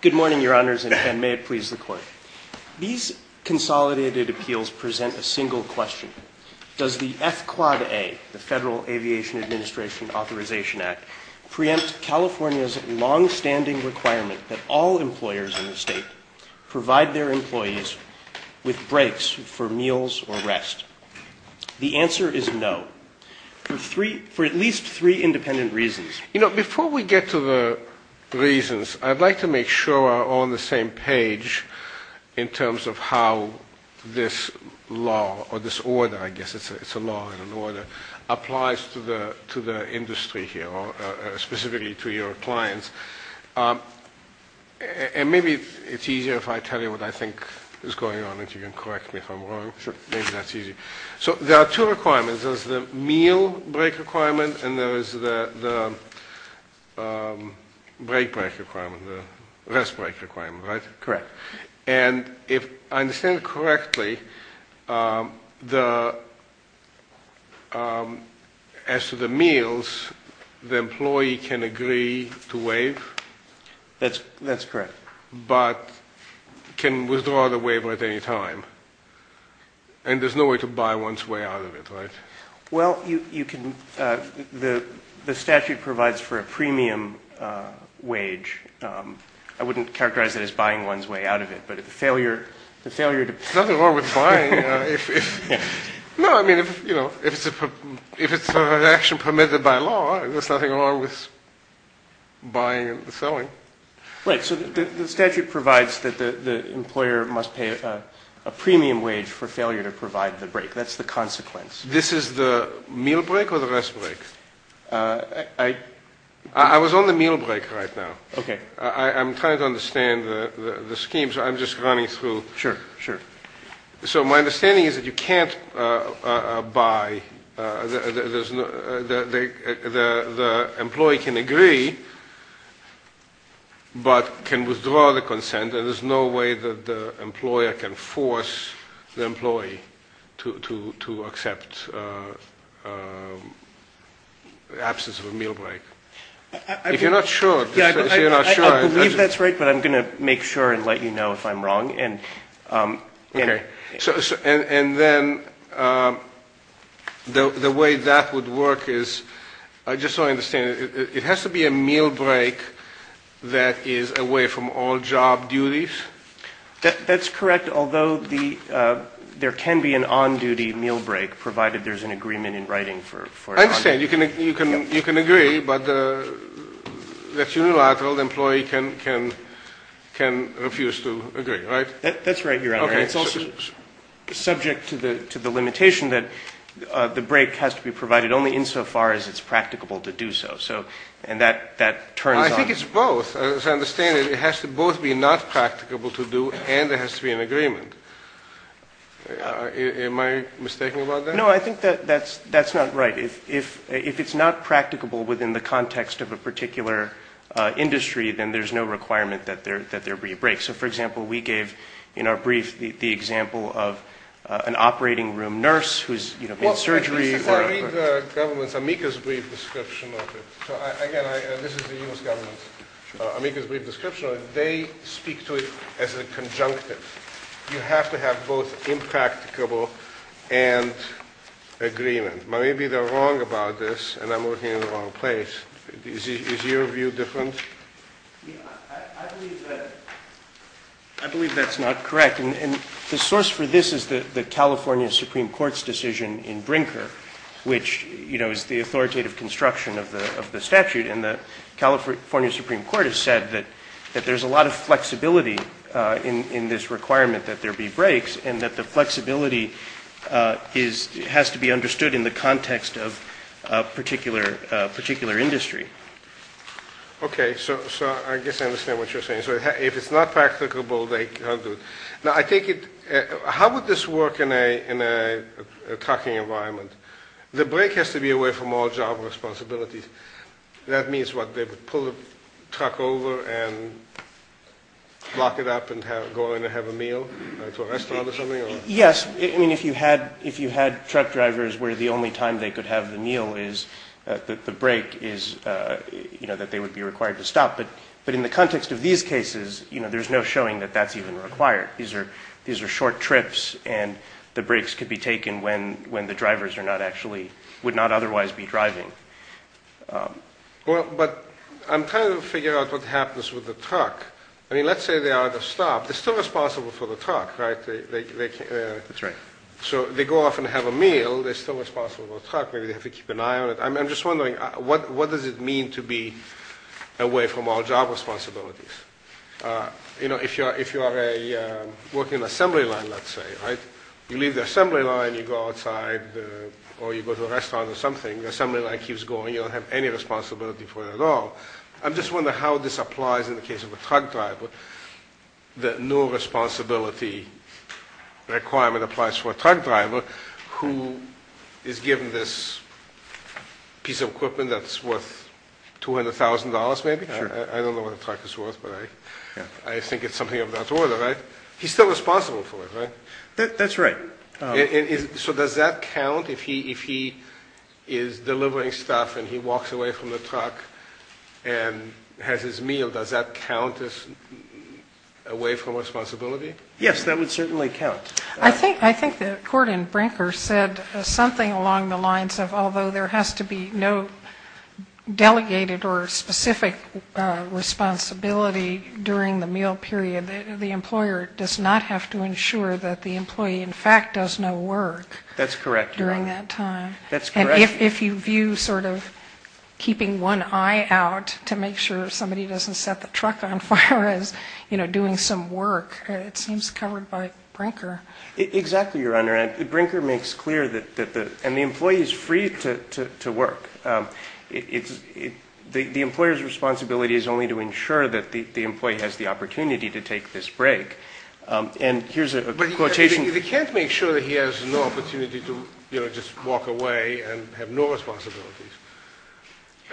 Good morning, Your Honors, and may it please the Court. These consolidated appeals present a single question. Does the F-Quad-A, the Federal Aviation Administration Authorization Act, preempt California's longstanding requirement that all employers in the state provide their employees with breaks for meals or rest? The answer is no, for at least three independent reasons. You know, before we get to the reasons, I'd like to make sure we're all on the same page in terms of how this law, or this order, I guess it's a law and an order, applies to the industry here, or specifically to your clients. And maybe it's easier if I tell you what I think is going on, if you can correct me if I'm wrong. Maybe that's easier. So there are two requirements. There's the meal break requirement, and there is the break break requirement, the rest break requirement, right? Correct. And if I understand correctly, as to the meals, the employee can agree to waive? That's correct. But can withdraw the waiver at any time? And there's no way to buy one's way out of it, right? Well, you can ‑‑ the statute provides for a premium wage. I wouldn't characterize it as buying one's way out of it, but the failure to ‑‑ There's nothing wrong with buying. No, I mean, if it's an action permitted by law, there's nothing wrong with buying and selling. Right, so the statute provides that the employer must pay a premium wage for failure to provide the break. That's the consequence. This is the meal break or the rest break? I was on the meal break right now. Okay. I'm trying to understand the scheme, so I'm just running through. Sure, sure. So my understanding is that you can't buy ‑‑ the employee can agree but can withdraw the consent, and there's no way that the employer can force the employee to accept the absence of a meal break. If you're not sure. I believe that's right, but I'm going to make sure and let you know if I'm wrong. Okay. And then the way that would work is, just so I understand, it has to be a meal break that is away from all job duties? That's correct, although there can be an on‑duty meal break, provided there's an agreement in writing for it. I understand. You can agree, but that's unilateral. The employee can refuse to agree, right? That's right, Your Honor. Okay. It's also subject to the limitation that the break has to be provided only insofar as it's practicable to do so, and that turns on ‑‑ I think it's both. As I understand it, it has to both be not practicable to do and there has to be an agreement. Am I mistaken about that? No, I think that's not right. If it's not practicable within the context of a particular industry, then there's no requirement that there be a break. So, for example, we gave in our brief the example of an operating room nurse who's in surgery. I read the government's amicus brief description of it. So, again, this is the U.S. government's amicus brief description of it. They speak to it as a conjunctive. You have to have both impracticable and agreement. Maybe they're wrong about this and I'm working in the wrong place. Is your view different? I believe that's not correct. And the source for this is the California Supreme Court's decision in Brinker, which, you know, is the authoritative construction of the statute. And the California Supreme Court has said that there's a lot of flexibility in this requirement that there be breaks and that the flexibility has to be understood in the context of a particular industry. Okay, so I guess I understand what you're saying. So if it's not practicable, they can't do it. Now, I take it, how would this work in a trucking environment? The break has to be away from all job responsibilities. That means what, they would pull the truck over and lock it up and go in and have a meal to a restaurant or something? Yes. I mean, if you had truck drivers where the only time they could have the meal is the break is, you know, that they would be required to stop. But in the context of these cases, you know, there's no showing that that's even required. These are short trips, and the breaks could be taken when the drivers are not actually, would not otherwise be driving. Well, but I'm trying to figure out what happens with the truck. I mean, let's say they are at a stop. They're still responsible for the truck, right? That's right. So they go off and have a meal. They're still responsible for the truck. Maybe they have to keep an eye on it. I'm just wondering, what does it mean to be away from all job responsibilities? You know, if you are working an assembly line, let's say, right? You leave the assembly line. You go outside, or you go to a restaurant or something. The assembly line keeps going. You don't have any responsibility for it at all. I'm just wondering how this applies in the case of a truck driver, that no responsibility requirement applies for a truck driver who is given this piece of equipment that's worth $200,000 maybe. I don't know what a truck is worth, but I think it's something of that order, right? He's still responsible for it, right? That's right. So does that count if he is delivering stuff and he walks away from the truck and has his meal? Does that count as away from responsibility? Yes, that would certainly count. I think that Gordon Brinker said something along the lines of, although there has to be no delegated or specific responsibility during the meal period, the employer does not have to ensure that the employee, in fact, does no work. That's correct. During that time. That's correct. If you view sort of keeping one eye out to make sure somebody doesn't set the truck on fire as doing some work, it seems covered by Brinker. Exactly, Your Honor. Brinker makes clear that the employee is free to work. The employer's responsibility is only to ensure that the employee has the opportunity to take this break. And here's a quotation. They can't make sure that he has no opportunity to, you know, just walk away and have no responsibilities.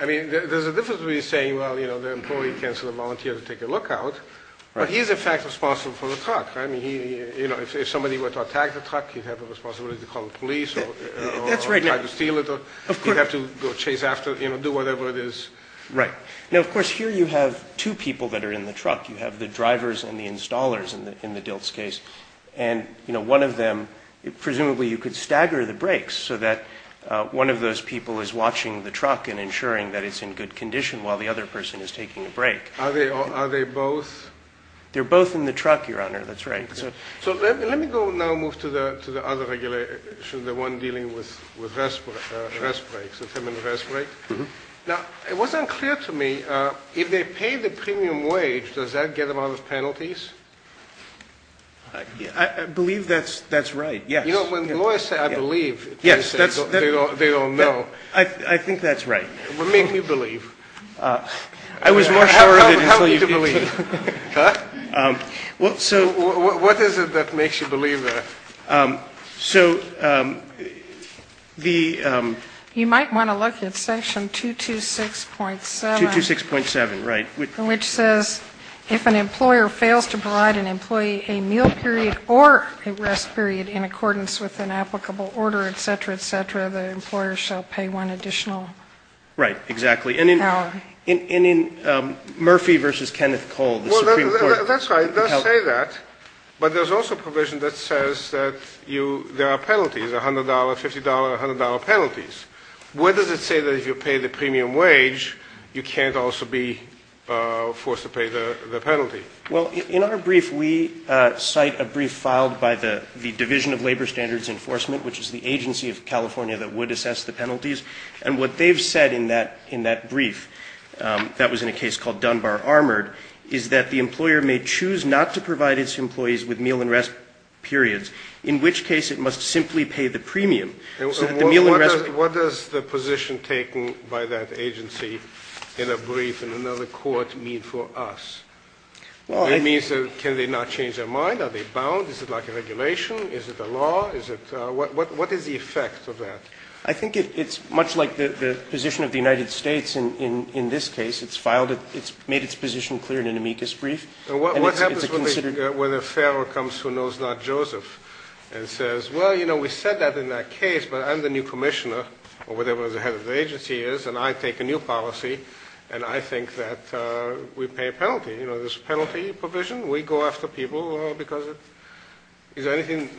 I mean, there's a difference between saying, well, you know, the employee can sort of volunteer to take a lookout. But he's, in fact, responsible for the truck. I mean, you know, if somebody were to attack the truck, he'd have the responsibility to call the police or try to steal it. He'd have to go chase after it, you know, do whatever it is. Right. Now, of course, here you have two people that are in the truck. You have the drivers and the installers in the Diltz case. And, you know, one of them, presumably you could stagger the brakes so that one of those people is watching the truck and ensuring that it's in good condition while the other person is taking a break. Are they both? They're both in the truck, Your Honor. That's right. So let me go now move to the other regulation, the one dealing with rest breaks. Now, it wasn't clear to me, if they pay the premium wage, does that get them out of penalties? I believe that's right, yes. You know, when lawyers say, I believe, they say they don't know. I think that's right. Well, make me believe. I was more sure of it until you did. How are you to believe? Huh? Well, so. What is it that makes you believe that? So the. You might want to look at Section 226.7. 226.7, right. Which says, if an employer fails to provide an employee a meal period or a rest period in accordance with an applicable order, et cetera, et cetera, the employer shall pay one additional. Right, exactly. And in Murphy v. Kenneth Cole, the Supreme Court. Well, that's right. It does say that. But there's also a provision that says that there are penalties, $100, $50, $100 penalties. Where does it say that if you pay the premium wage, you can't also be forced to pay the penalty? Well, in our brief, we cite a brief filed by the Division of Labor Standards Enforcement, which is the agency of California that would assess the penalties. And what they've said in that brief, that was in a case called Dunbar-Armored, is that the employer may choose not to provide its employees with meal and rest periods, in which case it must simply pay the premium. And what does the position taken by that agency in a brief in another court mean for us? It means can they not change their mind? Are they bound? Is it like a regulation? Is it a law? What is the effect of that? I think it's much like the position of the United States in this case. It's made its position clear in an amicus brief. What happens when a federal comes who knows not Joseph and says, well, you know, we said that in that case, but I'm the new commissioner, or whatever the head of the agency is, and I take a new policy, and I think that we pay a penalty. You know, there's a penalty provision. We go after people because it's anything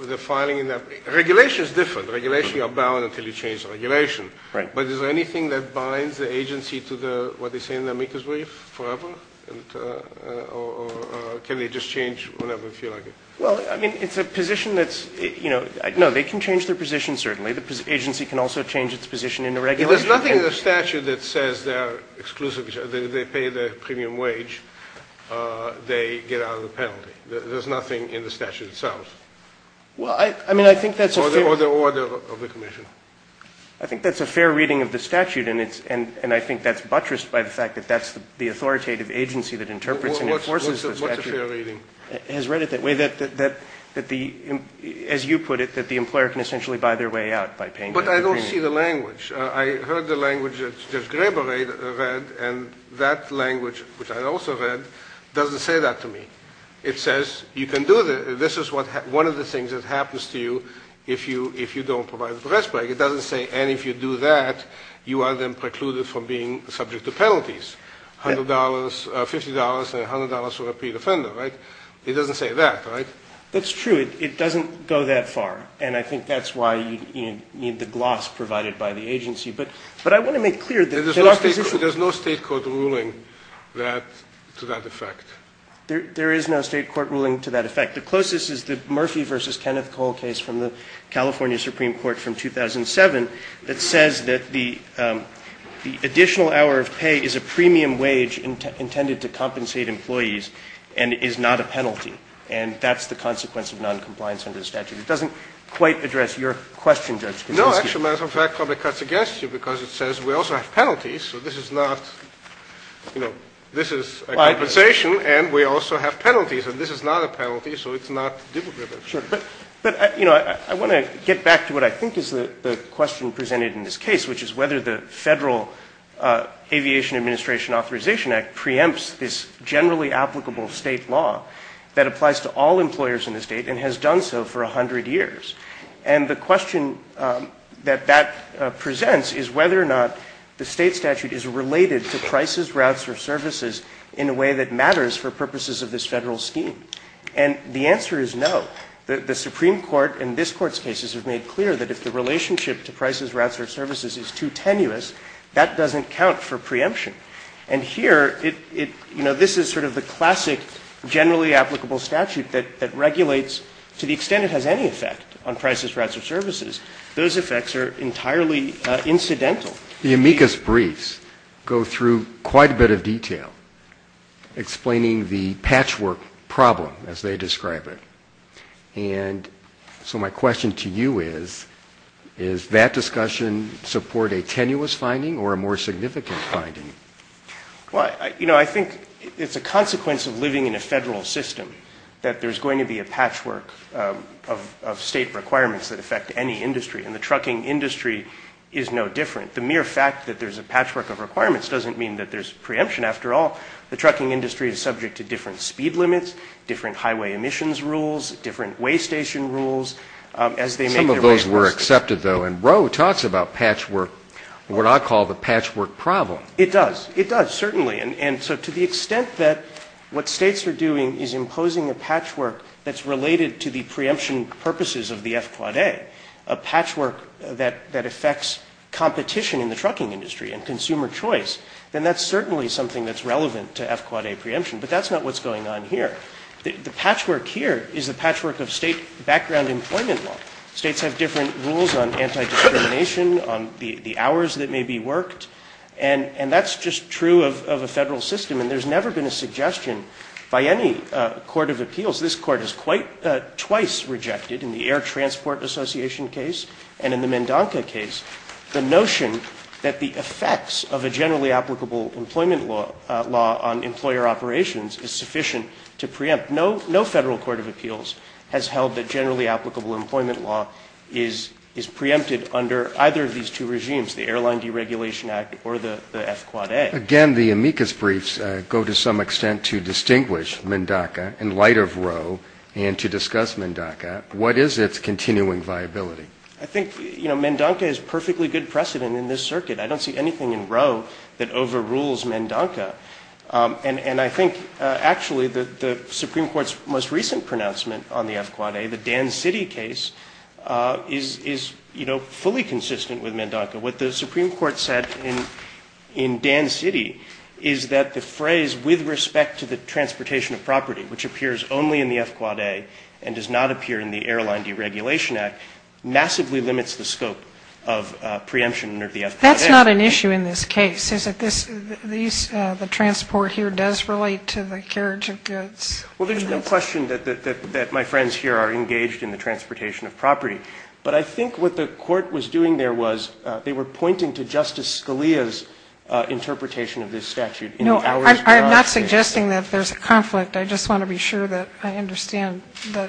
with the filing in that. Regulation is different. Regulations are bound until you change the regulation. Right. But is there anything that binds the agency to what they say in the amicus brief forever? Or can they just change whenever they feel like it? Well, I mean, it's a position that's, you know, no, they can change their position, certainly. The agency can also change its position in the regulation. There's nothing in the statute that says they're exclusive. They pay the premium wage. They get out of the penalty. There's nothing in the statute itself. Well, I mean, I think that's a fair. Or the order of the commission. I think that's a fair reading of the statute, and I think that's buttressed by the fact that that's the authoritative agency that interprets and enforces the statute. What's a fair reading? It has read it that way, that the, as you put it, that the employer can essentially buy their way out by paying the premium. But I don't see the language. I heard the language that Judge Grebe read, and that language, which I also read, doesn't say that to me. It says you can do this. This is one of the things that happens to you if you don't provide the press break. It doesn't say, and if you do that, you are then precluded from being subject to penalties, $50 and $100 for a predefender, right? It doesn't say that, right? That's true. It doesn't go that far, and I think that's why you need the gloss provided by the agency. But I want to make clear that our position — There's no state court ruling to that effect. There is no state court ruling to that effect. The closest is the Murphy v. Kenneth Cole case from the California Supreme Court from 2007 that says that the additional hour of pay is a premium wage intended to compensate employees and is not a penalty, and that's the consequence of noncompliance under the statute. It doesn't quite address your question, Judge Kaczynski. No, actually, matter of fact, it probably cuts against you because it says we also have penalties, so this is not, you know, this is a compensation, and we also have penalties, and this is not a penalty, so it's not difficult. Sure. But, you know, I want to get back to what I think is the question presented in this case, which is whether the Federal Aviation Administration Authorization Act preempts this generally applicable state law that applies to all employers in the state and has done so for 100 years. And the question that that presents is whether or not the State statute is related to prices, routes, or services in a way that matters for purposes of this Federal scheme. And the answer is no. The Supreme Court in this Court's cases has made clear that if the relationship to prices, routes, or services is too tenuous, that doesn't count for preemption. And here it, you know, this is sort of the classic generally applicable statute that regulates to the extent it has any effect on prices, routes, or services. Those effects are entirely incidental. The amicus briefs go through quite a bit of detail explaining the patchwork problem, as they describe it. And so my question to you is, does that discussion support a tenuous finding or a more significant finding? Well, you know, I think it's a consequence of living in a Federal system that there's going to be a patchwork of State requirements that affect any industry. And the trucking industry is no different. The mere fact that there's a patchwork of requirements doesn't mean that there's preemption. After all, the trucking industry is subject to different speed limits, different highway emissions rules, different way station rules, as they make their way. Some of those were accepted, though. And Roe talks about patchwork, what I call the patchwork problem. It does. It does, certainly. And so to the extent that what States are doing is imposing a patchwork that's related to the preemption purposes of the FQA, a patchwork that affects competition in the trucking industry and consumer choice, then that's certainly something that's relevant to FQA preemption. But that's not what's going on here. The patchwork here is the patchwork of State background employment law. States have different rules on anti-discrimination, on the hours that may be worked. And that's just true of a Federal system. And there's never been a suggestion by any court of appeals. This Court has quite twice rejected in the Air Transport Association case and in the Mendonca case the notion that the effects of a generally applicable employment law on employer operations is sufficient to preempt. No Federal court of appeals has held that generally applicable employment law is preempted under either of these two regimes, the Airline Deregulation Act or the FQA. Again, the amicus briefs go to some extent to distinguish Mendonca in light of Roe and to discuss Mendonca. What is its continuing viability? I think Mendonca is a perfectly good precedent in this circuit. I don't see anything in Roe that overrules Mendonca. And I think actually the Supreme Court's most recent pronouncement on the FQA, the FQA, is fully consistent with Mendonca. What the Supreme Court said in Dan City is that the phrase, with respect to the transportation of property, which appears only in the FQA and does not appear in the Airline Deregulation Act, massively limits the scope of preemption under the FQA. That's not an issue in this case, is it? The transport here does relate to the carriage of goods. Well, there's no question that my friends here are engaged in the transportation of property. But I think what the Court was doing there was they were pointing to Justice Scalia's interpretation of this statute. No, I'm not suggesting that there's a conflict. I just want to be sure that I understand the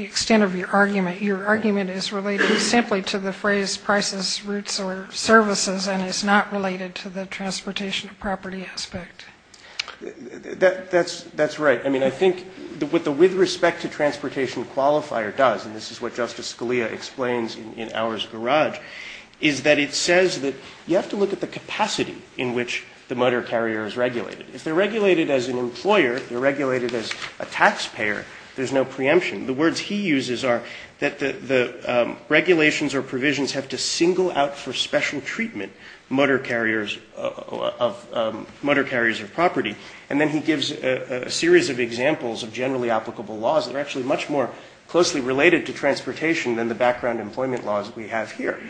extent of your argument. Your argument is related simply to the phrase, prices, routes, or services, and is not related to the transportation of property aspect. That's right. I mean, I think with the with respect to transportation qualifier does, and this is what Justice Scalia explains in Ours Garage, is that it says that you have to look at the capacity in which the motor carrier is regulated. If they're regulated as an employer, they're regulated as a taxpayer, there's no preemption. The words he uses are that the regulations or provisions have to single out for special treatment motor carriers of property. And then he gives a series of examples of generally applicable laws that are actually much more closely related to transportation than the background employment laws we have here.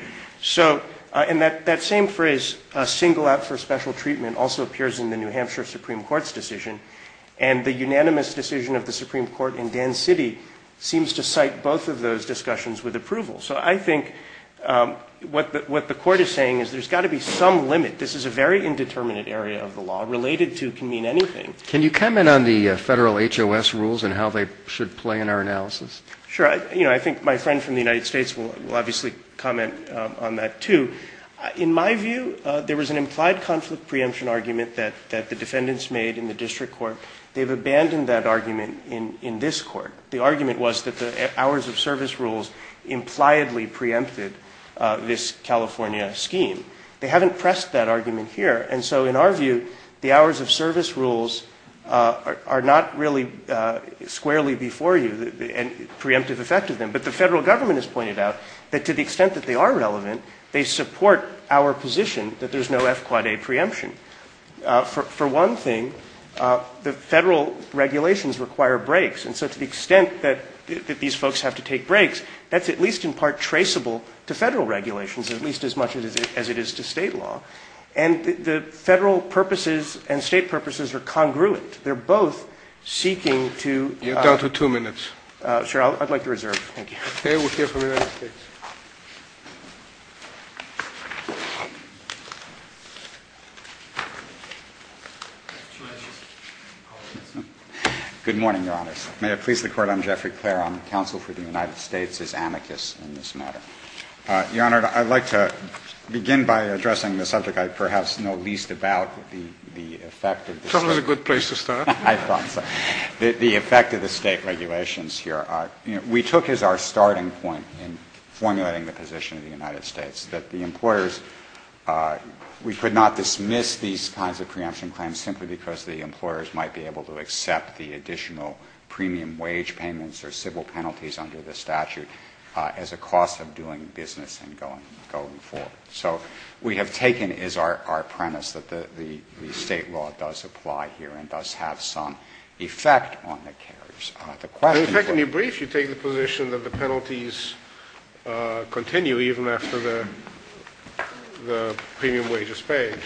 So, and that same phrase, single out for special treatment, also appears in the New Hampshire Supreme Court's decision. And the unanimous decision of the Supreme Court in Dan City seems to cite both of those discussions with approval. So I think what the Court is saying is there's got to be some limit. This is a very indeterminate area of the law. Related to can mean anything. Can you comment on the federal HOS rules and how they should play in our analysis? Sure. You know, I think my friend from the United States will obviously comment on that too. In my view, there was an implied conflict preemption argument that the defendants made in the district court. They've abandoned that argument in this court. The argument was that the hours of service rules impliedly preempted this California scheme. They haven't pressed that argument here. And so in our view, the hours of service rules are not really squarely before you and preemptive effect of them. But the federal government has pointed out that to the extent that they are relevant, they support our position that there's no F-Quad-A preemption. For one thing, the federal regulations require breaks. And so to the extent that these folks have to take breaks, that's at least in part traceable to federal regulations, at least as much as it is to state law. And the federal purposes and state purposes are congruent. They're both seeking to ---- You're down to two minutes. Sure. I'd like to reserve. Thank you. Okay. We'll hear from the United States. Good morning, Your Honors. May it please the Court, I'm Jeffrey Clare. I'm counsel for the United States as amicus in this matter. Your Honor, I'd like to begin by addressing the subject I perhaps know least about, the effect of the state regulations. That was a good place to start. I thought so. The effect of the state regulations here, we took as our starting point in formulating the position of the United States that the employers, we could not dismiss these kinds of preemption claims simply because the employers might be able to accept the additional premium wage payments or civil penalties under the statute as a cost of doing business and going forward. So we have taken as our premise that the state law does apply here and does have some effect on the carriers. The question for ---- In fact, in your brief, you take the position that the penalties continue even after the premium wage is paid.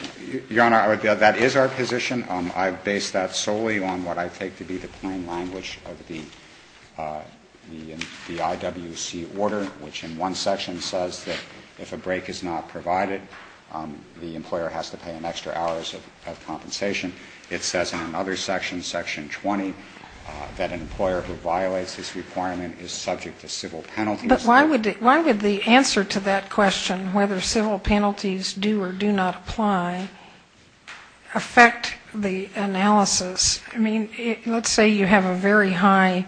Your Honor, that is our position. I base that solely on what I take to be the plain language of the IWC order, which in one section says that if a break is not provided, the employer has to pay an extra hours of compensation. It says in another section, Section 20, that an employer who violates this requirement is subject to civil penalties. But why would the answer to that question, whether civil penalties do or do not apply, affect the analysis? I mean, let's say you have a very high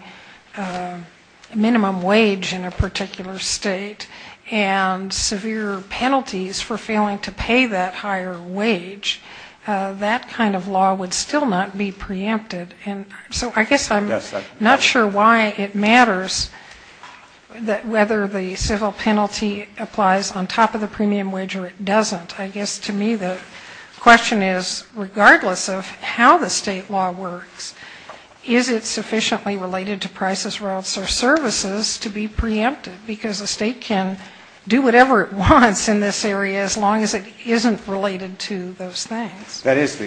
minimum wage in a particular state and severe penalties for failing to pay that higher wage, that kind of law would still not be preempted. And so I guess I'm not sure why it matters whether the civil penalty applies on top of the premium wage or it doesn't. I guess to me the question is, regardless of how the State law works, is it sufficiently related to prices, routes or services to be preempted? Because a State can do whatever it wants in this area as long as it isn't related to those things. That is,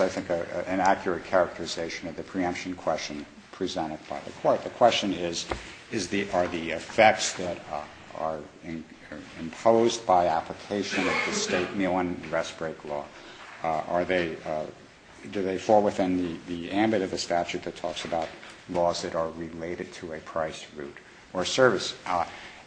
I think, an accurate characterization of the preemption question presented by the Court. The question is, are the effects that are imposed by application of the State meal and rest break law, are they, do they fall within the ambit of the statute that talks about laws that are related to a price, route or service?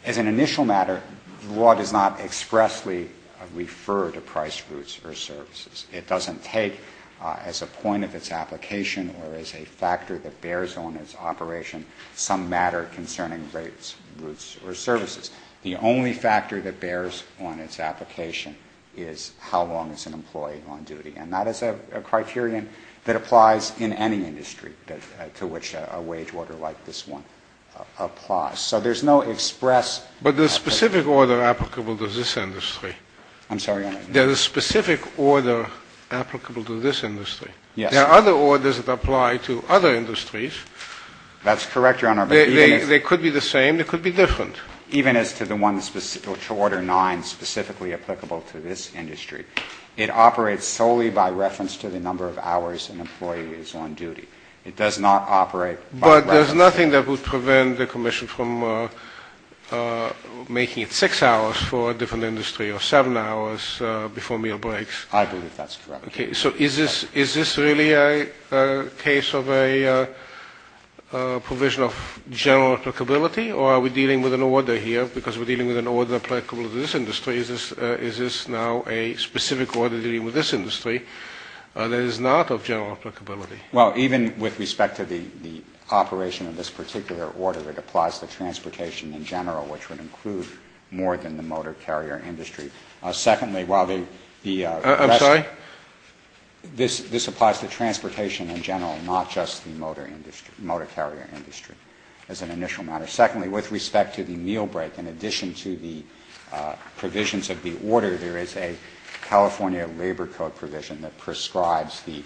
As an initial matter, the law does not expressly refer to price, routes or services. It doesn't take as a point of its application or as a factor that bears on its operation some matter concerning rates, routes or services. The only factor that bears on its application is how long it's an employee on duty. And that is a criterion that applies in any industry to which a wage order like this one applies. So there's no express. But there's a specific order applicable to this industry. I'm sorry? There's a specific order applicable to this industry. Yes. There are other orders that apply to other industries. That's correct, Your Honor. They could be the same. They could be different. Even as to the one specific to Order 9 specifically applicable to this industry, it operates solely by reference to the number of hours an employee is on duty. It does not operate by reference. But there's nothing that would prevent the commission from making it six hours for a different industry or seven hours before meal breaks. I believe that's correct. Okay. So is this really a case of a provision of general applicability or are we dealing with an order here because we're dealing with an order applicable to this industry? Is this now a specific order dealing with this industry that is not of general applicability? Well, even with respect to the operation of this particular order, it applies to transportation in general, which would include more than the motor carrier industry. I'm sorry? This applies to transportation in general, not just the motor carrier industry as an initial matter. Secondly, with respect to the meal break, in addition to the provisions of the order, there is a California Labor Code provision that prescribes the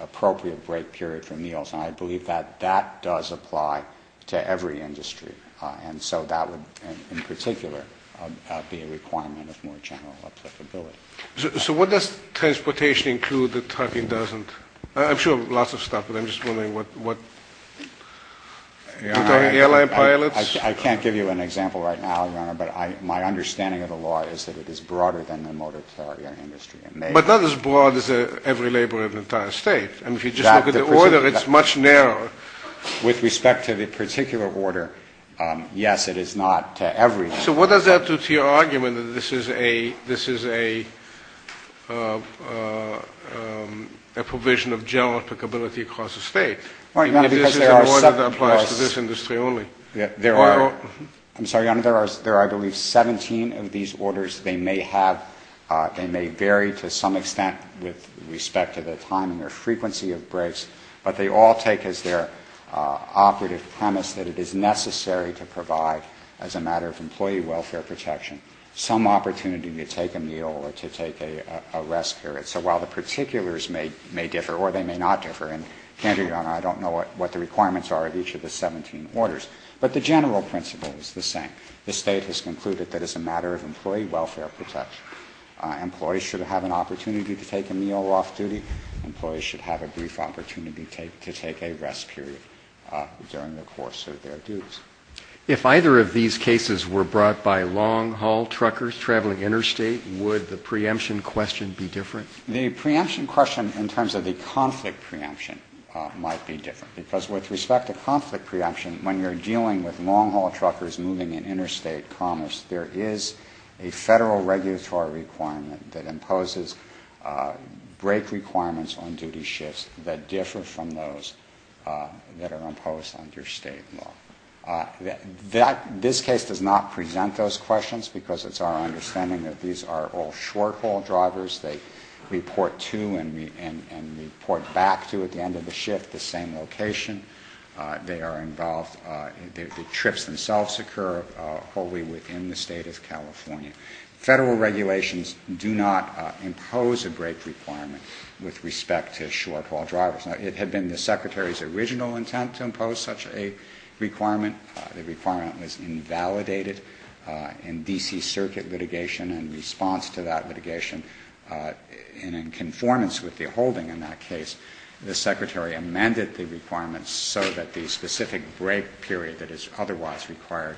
appropriate break period for meals. And I believe that that does apply to every industry. And so that would, in particular, be a requirement of more general applicability. So what does transportation include that trucking doesn't? I'm sure lots of stuff, but I'm just wondering what airline pilots? I can't give you an example right now, Your Honor, but my understanding of the law is that it is broader than the motor carrier industry. But not as broad as every labor in the entire State. And if you just look at the order, it's much narrower. With respect to the particular order, yes, it is not to every. So what does that do to your argument that this is a provision of general applicability across the State? I mean, this is an order that applies to this industry only. I'm sorry, Your Honor, there are, I believe, 17 of these orders. They may vary to some extent with respect to the timing or frequency of breaks, but they all take as their operative premise that it is necessary to provide, as a matter of employee welfare protection, some opportunity to take a meal or to take a rest period. So while the particulars may differ or they may not differ, and candidate, Your Honor, I don't know what the requirements are of each of the 17 orders, but the general principle is the same. The State has concluded that as a matter of employee welfare protection, employees should have an opportunity to take a meal off duty. Employees should have a brief opportunity to take a rest period during the course of their duties. If either of these cases were brought by long-haul truckers traveling interstate, would the preemption question be different? The preemption question in terms of the conflict preemption might be different because with respect to conflict preemption, when you're dealing with long-haul truckers moving in interstate commerce, there is a Federal regulatory requirement that imposes break requirements on interstate law. This case does not present those questions because it's our understanding that these are all short-haul drivers. They report to and report back to at the end of the shift the same location. They are involved. The trips themselves occur wholly within the State of California. Federal regulations do not impose a break requirement with respect to short- haul drivers. Now, it had been the Secretary's original intent to impose such a requirement. The requirement was invalidated in D.C. Circuit litigation. In response to that litigation and in conformance with the holding in that case, the Secretary amended the requirements so that the specific break period that is otherwise required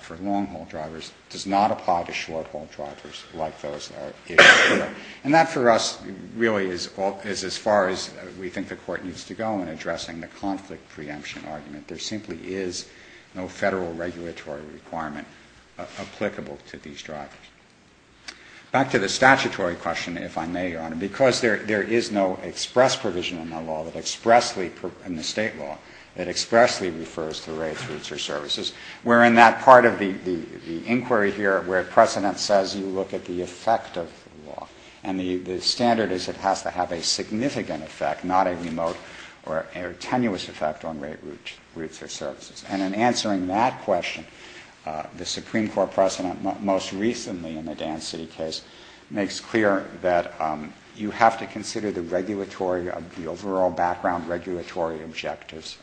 for long-haul drivers does not apply to short-haul drivers like those that are issued. And that for us really is as far as we think the Court needs to go in addressing the conflict preemption argument. There simply is no Federal regulatory requirement applicable to these drivers. Back to the statutory question, if I may, Your Honor. Because there is no express provision in the State law that expressly refers to rates, routes, or services, we're in that part of the inquiry here where precedent says you look at the effect of the law. And the standard is it has to have a significant effect, not a remote or tenuous effect on rates, routes, or services. And in answering that question, the Supreme Court precedent most recently in the Dan City case makes clear that you have to consider the regulatory, the overall background regulatory objectives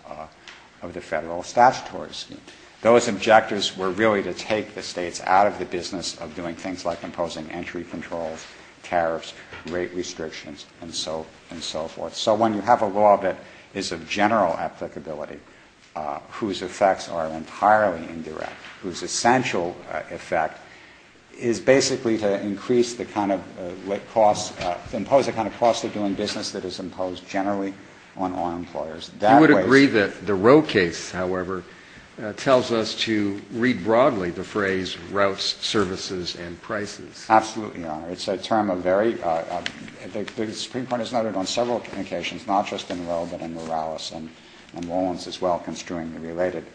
of the Federal statutory scheme. Those objectives were really to take the States out of the business of doing things like imposing entry controls, tariffs, rate restrictions, and so forth. So when you have a law that is of general applicability, whose effects are entirely indirect, whose essential effect is basically to increase the kind of cost, impose a kind of cost of doing business that is imposed generally on all employers. You would agree that the Roe case, however, tells us to read broadly the phrase routes, services, and prices. Absolutely, Your Honor. It's a term of very – the Supreme Court has noted on several occasions, not just in Roe but in Morales and in Rollins as well, construing the related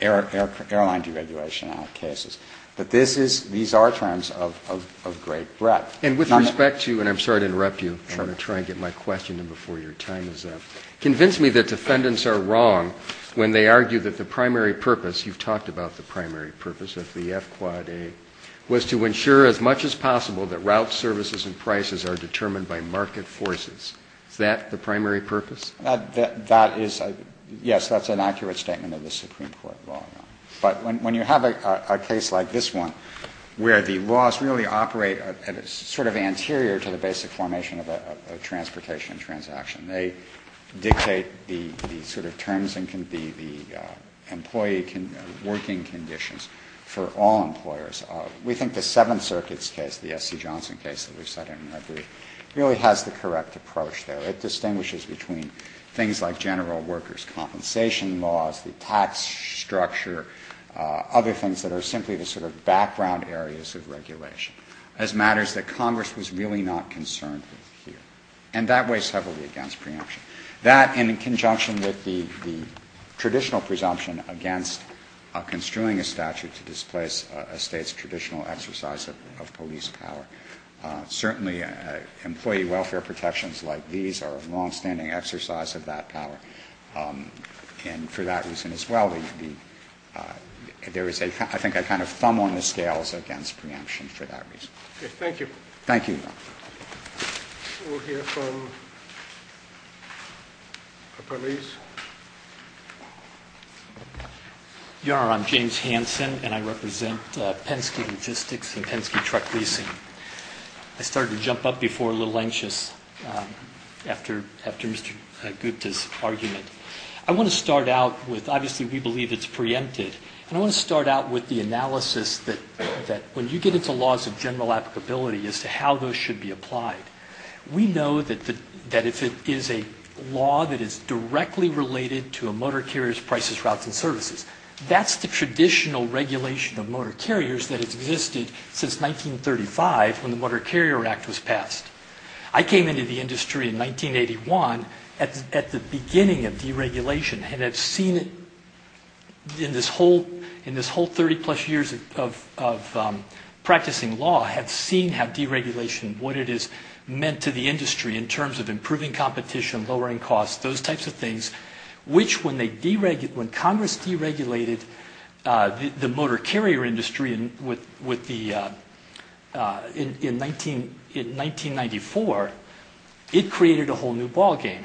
airline deregulation cases. But this is – these are terms of great breadth. And with respect to – and I'm sorry to interrupt you. Sure. I'll try and get my question in before your time is up. Convince me that defendants are wrong when they argue that the primary purpose – you've talked about the primary purpose of the F-Quad A – was to ensure as much as possible that routes, services, and prices are determined by market forces. Is that the primary purpose? That is – yes, that's an accurate statement of the Supreme Court, Your Honor. But when you have a case like this one, where the laws really operate at a sort of anterior to the basic formation of a transportation transaction, they dictate the sort of terms and the employee working conditions for all employers. We think the Seventh Circuit's case, the S.C. Johnson case that we've cited in our brief, really has the correct approach there. It distinguishes between things like general workers' compensation laws, the tax structure, other things that are simply the sort of background areas of regulation. As matters that Congress was really not concerned with here. And that weighs heavily against preemption. That, and in conjunction with the traditional presumption against construing a statute to displace a State's traditional exercise of police power. Certainly, employee welfare protections like these are a longstanding exercise of that power. And for that reason as well, there is a – I think a kind of thumb on the scales against preemption for that reason. Okay. Thank you. Thank you. We'll hear from the police. Your Honor, I'm James Hansen and I represent Penske Logistics and Penske Truck Leasing. I started to jump up before a little anxious after Mr. Gupta's argument. I want to start out with, obviously we believe it's preempted. And I want to start out with the analysis that when you get into laws of general applicability as to how those should be applied, we know that if it is a law that is directly related to a motor carrier's prices, routes, and services, that's the traditional regulation of motor carriers that has existed since 1935 when the Motor Carrier Act was passed. I came into the industry in 1981 at the beginning of deregulation and have seen it in this whole 30 plus years of practicing law, have seen how deregulation, what it has meant to the industry in terms of improving competition, lowering costs, those types of things, which when Congress deregulated the motor carrier industry in 1994, it created a whole new ball game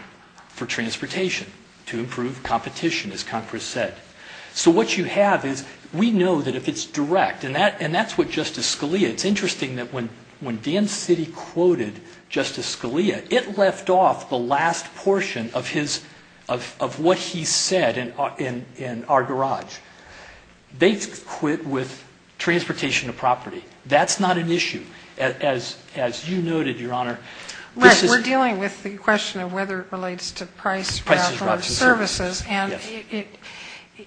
for transportation to improve competition as Congress said. So what you have is, we know that if it's direct, and that's what Justice Scalia, it's interesting that when Dan Citty quoted Justice Scalia, it left off the last portion of what he said in our garage. They quit with transportation to property. That's not an issue. As you noted, Your Honor, this is...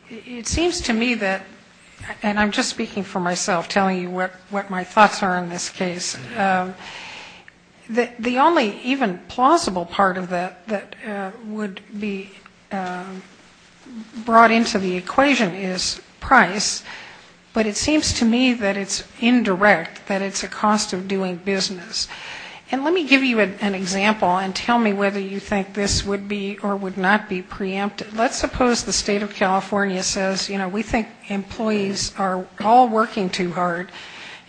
It seems to me that, and I'm just speaking for myself, telling you what my thoughts are in this case, the only even plausible part of that that would be brought into the equation is price, but it seems to me that it's indirect, that it's a cost of doing business. And let me give you an example and tell me whether you think this would be or would not be preempted. Let's suppose the State of California says, you know, we think employees are all working too hard,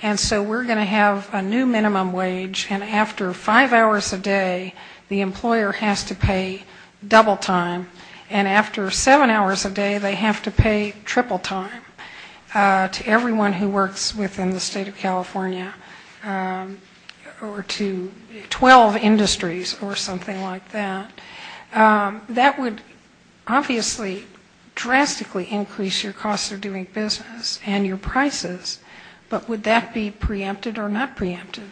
and so we're going to have a new minimum wage, and after five hours a day, the employer has to pay double time, and after seven hours a day, they have to pay triple time to everyone who works within the State of California or to 12 industries or something like that. That would obviously drastically increase your costs of doing business and your prices, but would that be preempted or not preempted?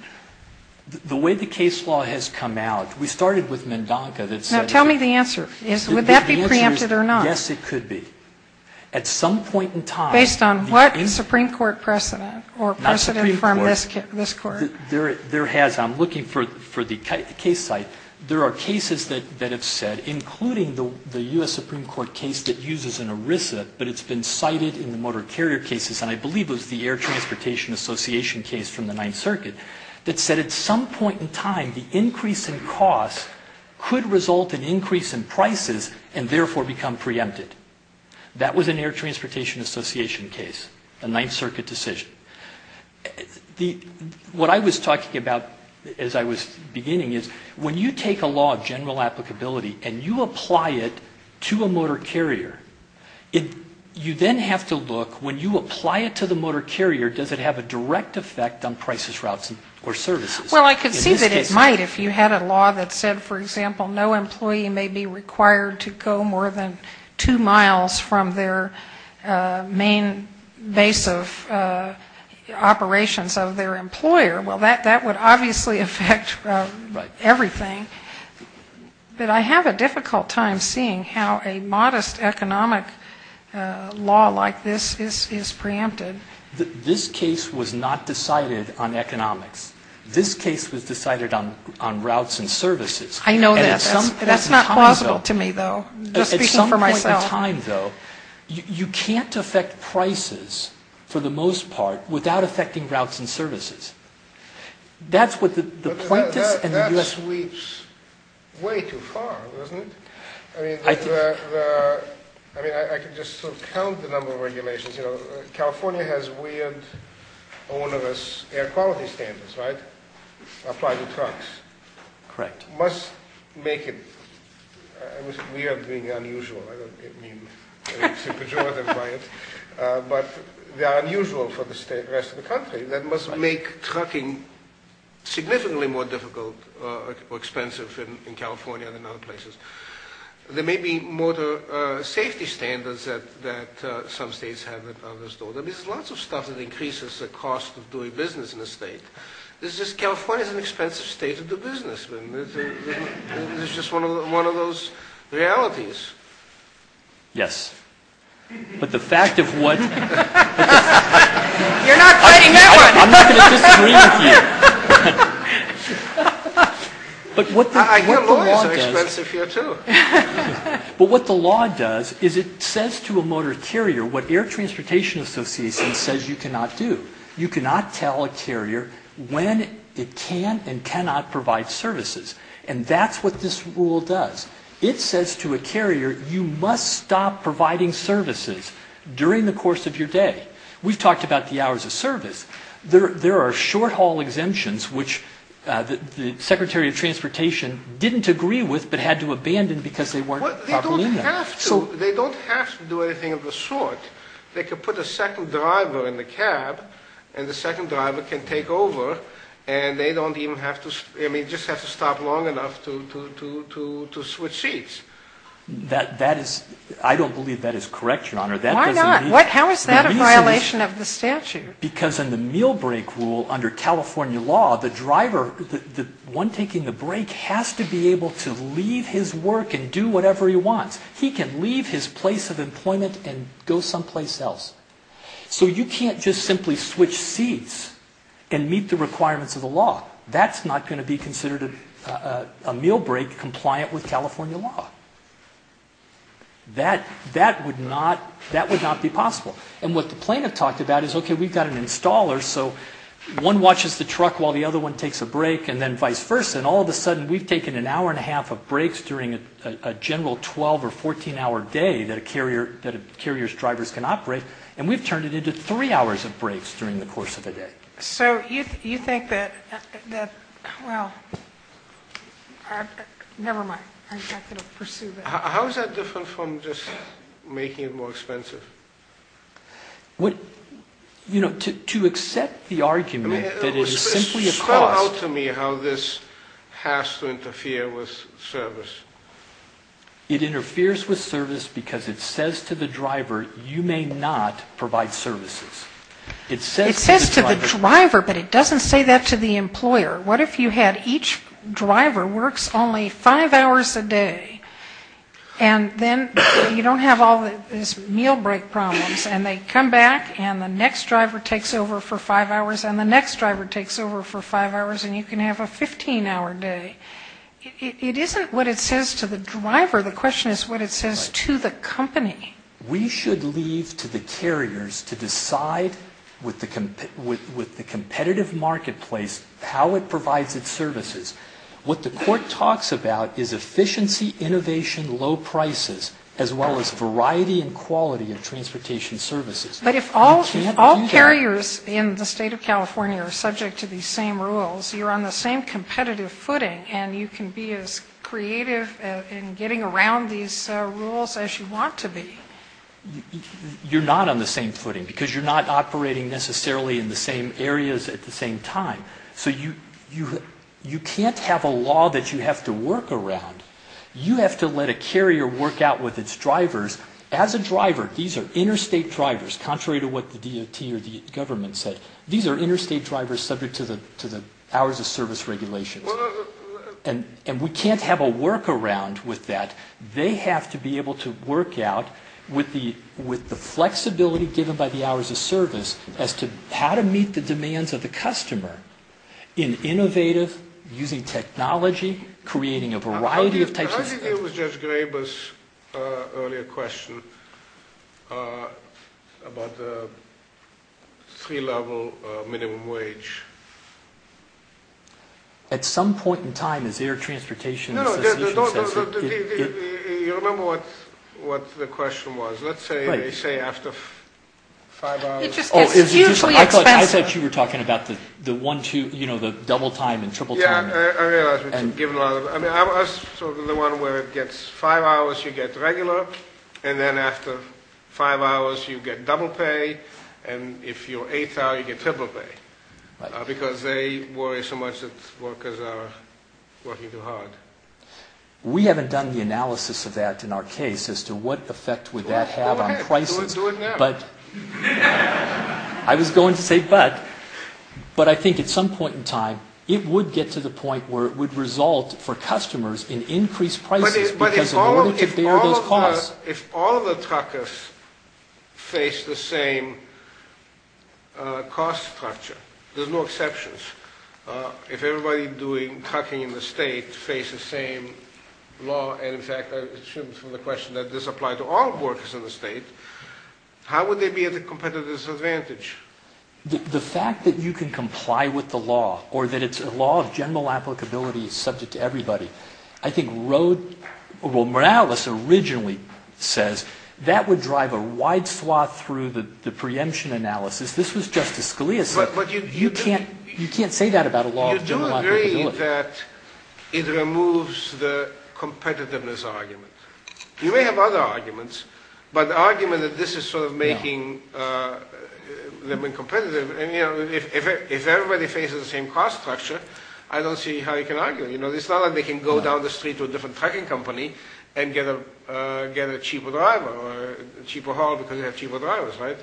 The way the case law has come out, we started with MnDONCA that said... Now, tell me the answer. Would that be preempted or not? Yes, it could be. At some point in time... Based on what Supreme Court precedent or precedent from this Court? I'm looking for the case site. There are cases that have said, including the U.S. Supreme Court case that uses an ERISA, but it's been cited in the motor carrier cases, and I believe it was the Air Transportation Association case from the Ninth Circuit, that said at some point in time, the increase in costs could result in increase in prices and therefore become preempted. That was an Air Transportation Association case, a Ninth Circuit decision. What I was talking about as I was beginning is when you take a law of general applicability and you apply it to a motor carrier, you then have to look, when you apply it to the motor carrier, does it have a direct effect on prices, routes, or services? Well, I could see that it might if you had a law that said, for example, no employee may be required to go more than two miles from their main base of operations of their employer. Well, that would obviously affect everything. But I have a difficult time seeing how a modest economic law like this is preempted. This case was not decided on economics. This case was decided on routes and services. I know that. That's not plausible to me, though. I'm just speaking for myself. At some point in time, though, you can't affect prices, for the most part, without affecting routes and services. That's what the plaintiffs and the U.S. That sweeps way too far, doesn't it? I mean, I can just sort of count the number of regulations. California has weird, onerous air quality standards, right? Apply to trucks. Correct. Must make it weird being unusual. I don't mean to be pejorative by it. But they are unusual for the rest of the country. That must make trucking significantly more difficult or expensive in California than in other places. There may be motor safety standards that some states have that others don't. There's lots of stuff that increases the cost of doing business in a state. It's just California is an expensive state to do business in. It's just one of those realities. Yes. But the fact of what... You're not fighting that one! I'm not going to disagree with you. I hear lawyers are expensive here, too. But what the law does is it says to a motor carrier what Air Transportation Association says you cannot do. You cannot tell a carrier when it can and cannot provide services. And that's what this rule does. It says to a carrier, you must stop providing services during the course of your day. We've talked about the hours of service. There are short-haul exemptions, which the Secretary of Transportation didn't agree with but had to abandon because they weren't properly in there. They don't have to. They don't have to do anything of the sort. They can put a second driver in the cab and the second driver can take over and they just have to stop long enough to switch seats. I don't believe that is correct, Your Honor. Why not? How is that a violation of the statute? Because in the meal break rule under California law, the driver, the one taking the break, has to be able to leave his work and do whatever he wants. He can leave his place of employment and go someplace else. So you can't just simply switch seats and meet the requirements of the law. That's not going to be considered a meal break compliant with California law. That would not be possible. And what the plaintiff talked about is, okay, we've got an installer, so one watches the truck while the other one takes a break and then vice versa and all of a sudden we've taken an hour and a half of breaks during a general 12- or 14-hour day that a carrier's drivers can operate and we've turned it into three hours of breaks during the course of the day. So you think that, well, never mind. I'm not going to pursue that. How is that different from just making it more expensive? You know, to accept the argument that it is simply a cost. So tell me how this has to interfere with service. It interferes with service because it says to the driver, you may not provide services. It says to the driver, but it doesn't say that to the employer. What if you had each driver works only five hours a day and then you don't have all these meal break problems and they come back and the next driver takes over for five hours and the next driver takes over for five hours and you can have a 15-hour day? It isn't what it says to the driver. The question is what it says to the company. We should leave to the carriers to decide with the competitive marketplace how it provides its services. What the court talks about is efficiency, innovation, low prices, as well as variety and quality of transportation services. But if all carriers in the state of California are subject to these same rules, you're on the same competitive footing and you can be as creative in getting around these rules as you want to be. You're not on the same footing because you're not operating necessarily in the same areas at the same time. So you can't have a law that you have to work around. You have to let a carrier work out with its drivers. As a driver, these are interstate drivers, contrary to what the DOT or the government said. These are interstate drivers subject to the hours of service regulations. And we can't have a workaround with that. They have to be able to work out with the flexibility given by the hours of service as to how to meet the demands of the customer in innovative, using technology, creating a variety of types of services. How do you deal with Judge Graber's earlier question about the three-level minimum wage? At some point in time, as the Air Transportation Association says— No, no, you remember what the question was. Let's say after five hours— It just gets hugely expensive. I thought you were talking about the one-two, you know, the double-time and triple-time. Yeah, I realize, but you've given a lot of— I mean, I was sort of the one where it gets five hours, you get regular, and then after five hours, you get double pay, and if you're eight hours, you get triple pay. Because they worry so much that workers are working too hard. We haven't done the analysis of that in our case as to what effect would that have on prices. Okay, do it now. I was going to say but, but I think at some point in time, it would get to the point where it would result for customers in increased prices because in order to bear those costs— But if all of the truckers face the same cost structure, there's no exceptions. If everybody doing trucking in the state faces the same law, and in fact, I assume from the question that this applies to all workers in the state, how would they be at the competitor's advantage? The fact that you can comply with the law or that it's a law of general applicability subject to everybody, I think Rhode—well, Morales originally says that would drive a wide swath through the preemption analysis. This was Justice Scalia's— But you do— You can't say that about a law of general applicability. You do agree that it removes the competitiveness argument. You may have other arguments, but the argument that this is sort of making them incompetitive, and you know, if everybody faces the same cost structure, I don't see how you can argue it. You know, it's not like they can go down the street to a different trucking company and get a cheaper driver or a cheaper haul because they have cheaper drivers, right?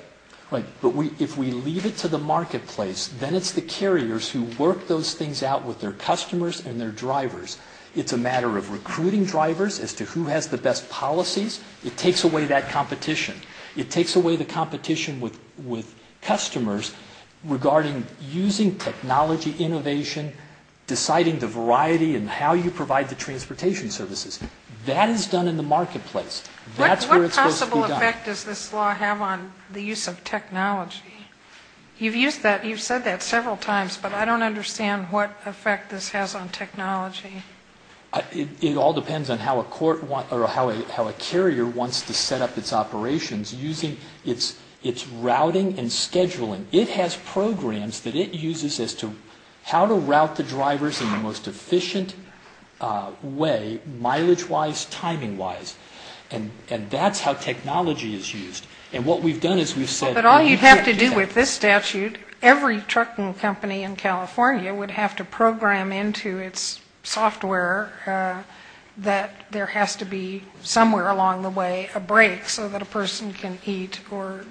Right. But if we leave it to the marketplace, then it's the carriers who work those things out with their customers and their drivers. It's a matter of recruiting drivers as to who has the best policies. It takes away that competition. It takes away the competition with customers regarding using technology innovation, deciding the variety and how you provide the transportation services. That is done in the marketplace. That's where it's supposed to be done. What effect does this law have on the use of technology? You've said that several times, but I don't understand what effect this has on technology. It all depends on how a carrier wants to set up its operations using its routing and scheduling. It has programs that it uses as to how to route the drivers in the most efficient way, mileage-wise, timing-wise. And that's how technology is used. And what we've done is we've said... But all you'd have to do with this statute, every trucking company in California would have to program into its software that there has to be somewhere along the way a break so that a person can eat or,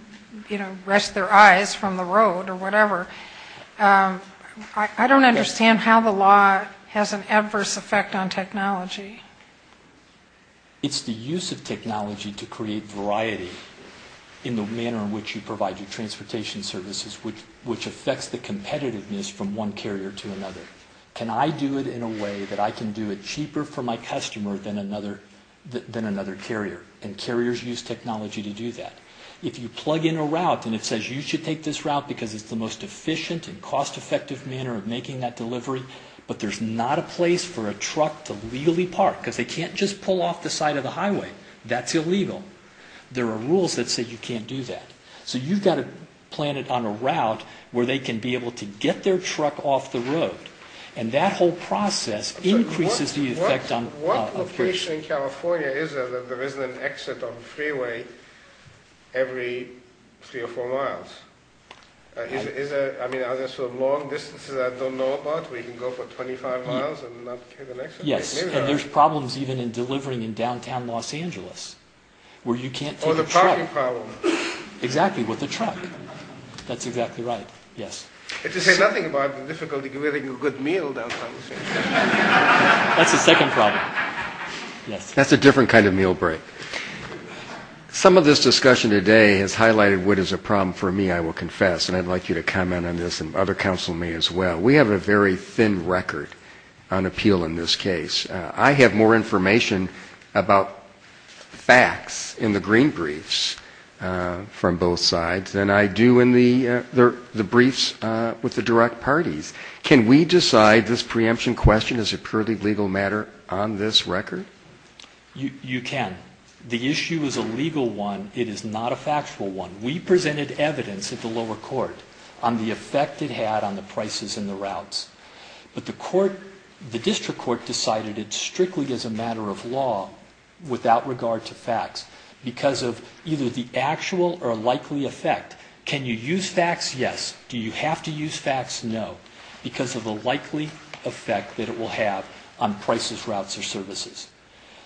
you know, rest their eyes from the road or whatever. I don't understand how the law has an adverse effect on technology. It's the use of technology to create variety in the manner in which you provide your transportation services, which affects the competitiveness from one carrier to another. Can I do it in a way that I can do it cheaper for my customer than another carrier? And carriers use technology to do that. If you plug in a route and it says you should take this route because it's the most efficient and cost-effective manner of making that delivery, but there's not a place for a truck to legally park because they can't just pull off the side of the highway. That's illegal. There are rules that say you can't do that. So you've got to plan it on a route where they can be able to get their truck off the road. And that whole process increases the effect on... What location in California is there that there isn't an exit on the freeway every three or four miles? I mean, are there sort of long distances I don't know about where you can go for 25 miles and not get an exit? Yes, and there's problems even in delivering in downtown Los Angeles where you can't take a truck. Or the parking problem. Exactly, with a truck. That's exactly right, yes. And to say nothing about the difficulty of getting a good meal downtown. That's the second problem. That's a different kind of meal break. Some of this discussion today has highlighted what is a problem for me, I will confess, and I'd like you to comment on this and other counsel may as well. We have a very thin record on appeal in this case. I have more information about facts in the green briefs from both sides than I do in the briefs with the direct parties. Can we decide this preemption question is a purely legal matter on this record? You can. The issue is a legal one. It is not a factual one. We presented evidence at the lower court on the effect it had on the prices and the routes. But the district court decided it strictly is a matter of law without regard to facts because of either the actual or likely effect. Can you use facts? Yes. Do you have to use facts? No. I have to use facts because of the likely effect that it will have on prices, routes, or services.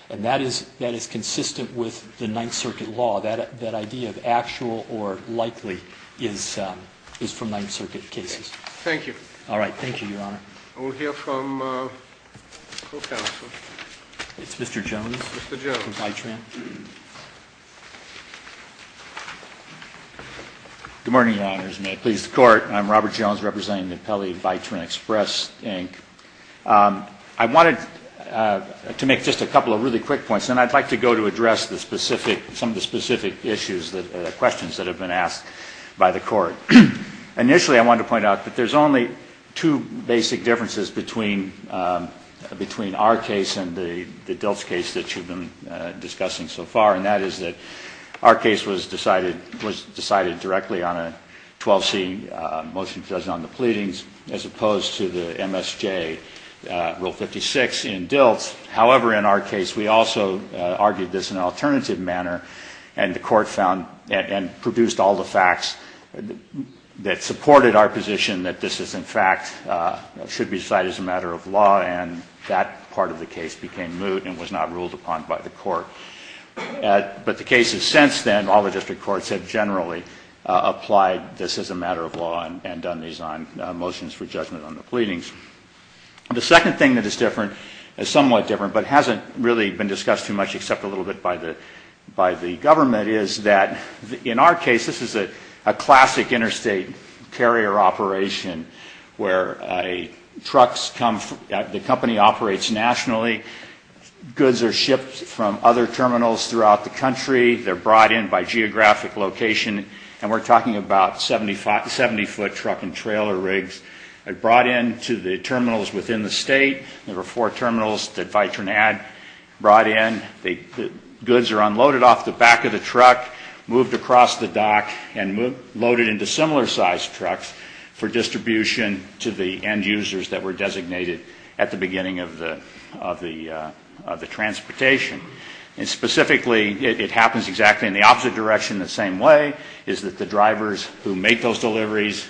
And that is consistent with the Ninth Circuit law. That idea of actual or likely is from Ninth Circuit cases. Thank you. All right. Thank you, Your Honor. We'll hear from the full counsel. It's Mr. Jones. Mr. Jones. Good morning, Your Honors. May it please the Court. I'm Robert Jones representing the Pele-Vitrin Express, Inc. I wanted to make just a couple of really quick points. And I'd like to go to address some of the specific questions that have been asked by the Court. Initially, I wanted to point out that there's only two basic differences between our case and the Delft's case that you've been discussing so far. And that is that our case was decided directly on a 12C motion to designate on the pleadings as opposed to the MSJ Rule 56 in Delft. However, in our case, we also argued this in an alternative manner. And the Court found and produced all the facts that supported our position that this is, in fact, should be decided as a matter of law. And that part of the case became moot and was not ruled upon by the Court. But the cases since then, all the district courts have generally applied this as a matter of law and done these motions for judgment on the pleadings. The second thing that is different, is somewhat different, but hasn't really been discussed too much except a little bit by the government, is that in our case, this is a classic interstate carrier operation where the company operates nationally. Goods are shipped from other terminals throughout the country. They're brought in by geographic location. And we're talking about 70-foot truck and trailer rigs. They're brought in to the terminals within the state. There were four terminals that Vitronad brought in. The goods are unloaded off the back of the truck, moved across the dock, and loaded into similar-sized trucks for distribution to the end users that were designated at the beginning of the transportation. And specifically, it happens exactly in the opposite direction in the same way, is that the drivers who make those deliveries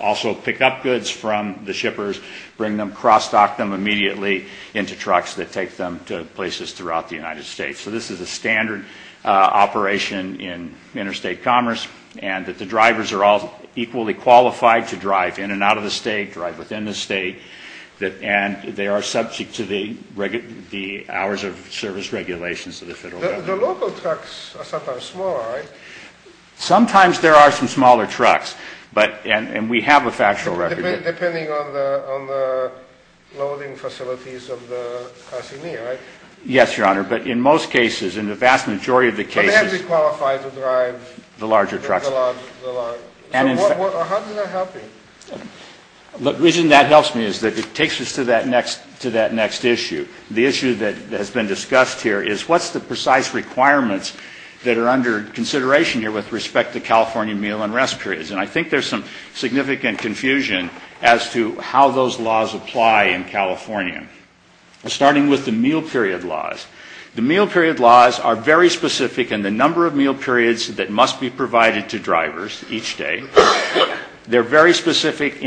also pick up goods from the shippers, bring them, cross-dock them immediately into trucks that take them to places throughout the United States. So this is a standard operation in interstate commerce, and that the drivers are all equally qualified to drive in and out of the state, drive within the state, and they are subject to the hours of service regulations of the federal government. The local trucks are sometimes smaller, right? Sometimes there are some smaller trucks, and we have a factual record. Depending on the loading facilities of the passenger, right? Yes, Your Honor. But in most cases, in the vast majority of the cases... But they have to qualify to drive... The larger trucks. The larger. So how does that help me? The reason that helps me is that it takes us to that next issue. The issue that has been discussed here is what's the precise requirements that are under consideration here with respect to California meal and rest periods? And I think there's some significant confusion as to how those laws apply in California. Starting with the meal period laws. The meal period laws are very specific in the number of meal periods that must be provided to drivers each day. They're very specific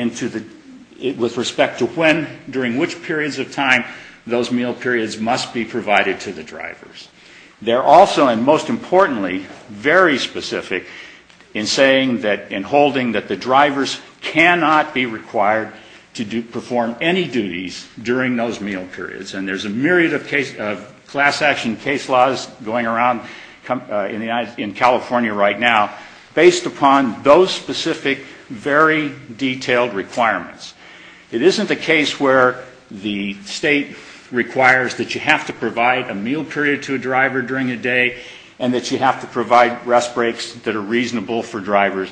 with respect to when, during which periods of time, those meal periods must be provided to the drivers. They're also, and most importantly, very specific in saying that, in holding that the drivers cannot be required to perform any duties during those meal periods. And there's a myriad of class action case laws going around in California right now based upon those specific, very detailed requirements. It isn't a case where the state requires that you have to provide a meal period to a driver during a day and that you have to provide rest breaks that are reasonable for drivers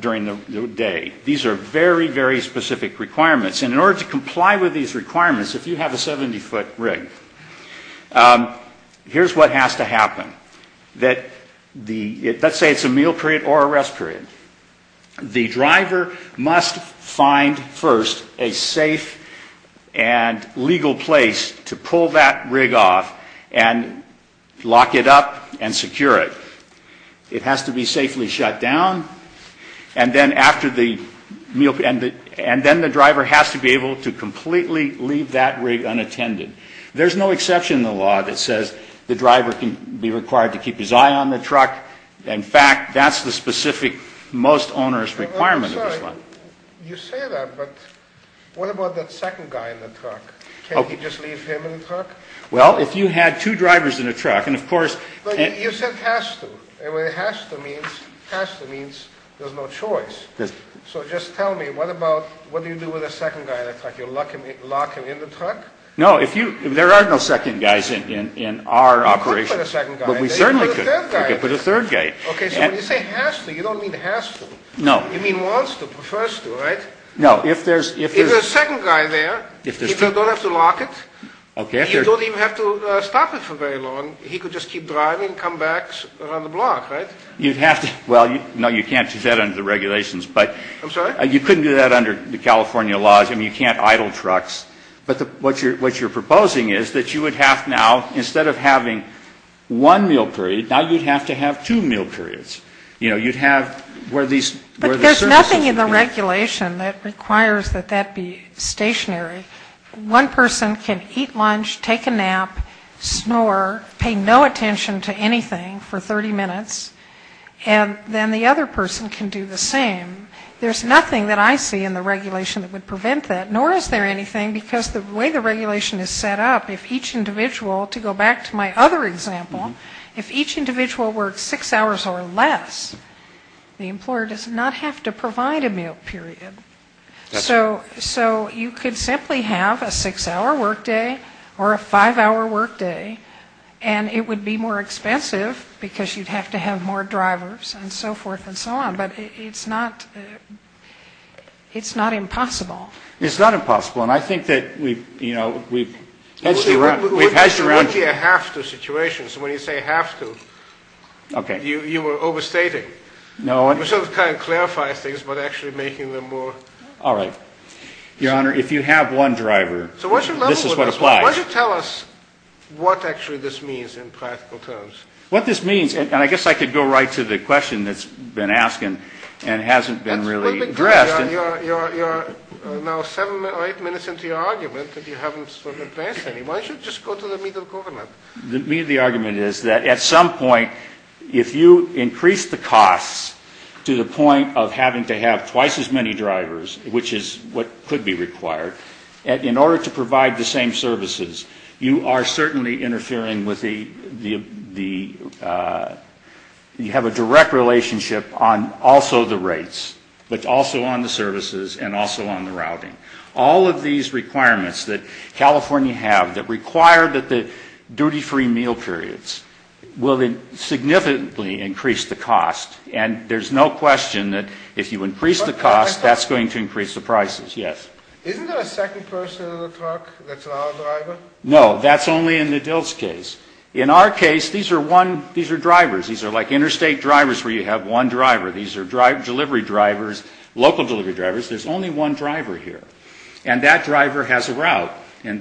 during the day. These are very, very specific requirements. And in order to comply with these requirements, if you have a 70-foot rig, here's what has to happen. Let's say it's a meal period or a rest period. The driver must find first a safe and legal place to pull that rig off and lock it up and secure it. It has to be safely shut down, and then after the meal period, and then the driver has to be able to completely leave that rig unattended. There's no exception in the law that says the driver can be required to keep his eye on the truck. In fact, that's the specific most onerous requirement of this law. You say that, but what about that second guy in the truck? Can't he just leave him in the truck? Well, if you had two drivers in a truck, and of course... But you said has to. Has to means there's no choice. So just tell me, what do you do with a second guy in a truck? You lock him in the truck? No, there are no second guys in our operation. You could put a second guy in. But we certainly could. You could put a third guy in. Okay, so when you say has to, you don't mean has to. No. You mean wants to, prefers to, right? No, if there's... If there's a second guy there, you don't have to lock it. Okay. You don't even have to stop it for very long. He could just keep driving and come back around the block, right? You'd have to. Well, no, you can't do that under the regulations, but... I'm sorry? You couldn't do that under the California laws. I mean, you can't idle trucks. But what you're proposing is that you would have now, instead of having one meal period, now you'd have to have two meal periods. You know, you'd have where these... But there's nothing in the regulation that requires that that be stationary. One person can eat lunch, take a nap, snore, pay no attention to anything for 30 minutes, and then the other person can do the same. There's nothing that I see in the regulation that would prevent that, nor is there anything, because the way the regulation is set up, if each individual, to go back to my other example, if each individual works six hours or less, the employer does not have to provide a meal period. So you could simply have a six-hour workday or a five-hour workday, and it would be more expensive because you'd have to have more drivers and so forth and so on. But it's not impossible. It's not impossible. And I think that we've hedged around... It would be a have-to situation. So when you say have to... Okay. ...you were overstating. No. You sort of kind of clarified things, but actually making them more... All right. Your Honor, if you have one driver, this is what applies. So why don't you tell us what actually this means in practical terms. What this means, and I guess I could go right to the question that's been asked and hasn't been really addressed. You're now seven or eight minutes into your argument, and you haven't sort of advanced any. Why don't you just go to the meat of the argument? The meat of the argument is that at some point if you increase the costs to the point of having to have twice as many drivers, which is what could be required, in order to provide the same services, you are certainly interfering with the You have a direct relationship on also the rates, but also on the services, and also on the routing. All of these requirements that California have that require that the duty-free meal periods will significantly increase the cost. And there's no question that if you increase the cost, that's going to increase the prices. Yes. Isn't there a second person in the truck that's our driver? No. That's only in the DILT's case. In our case, these are drivers. These are like interstate drivers where you have one driver. These are delivery drivers, local delivery drivers. There's only one driver here. And that driver has a route. And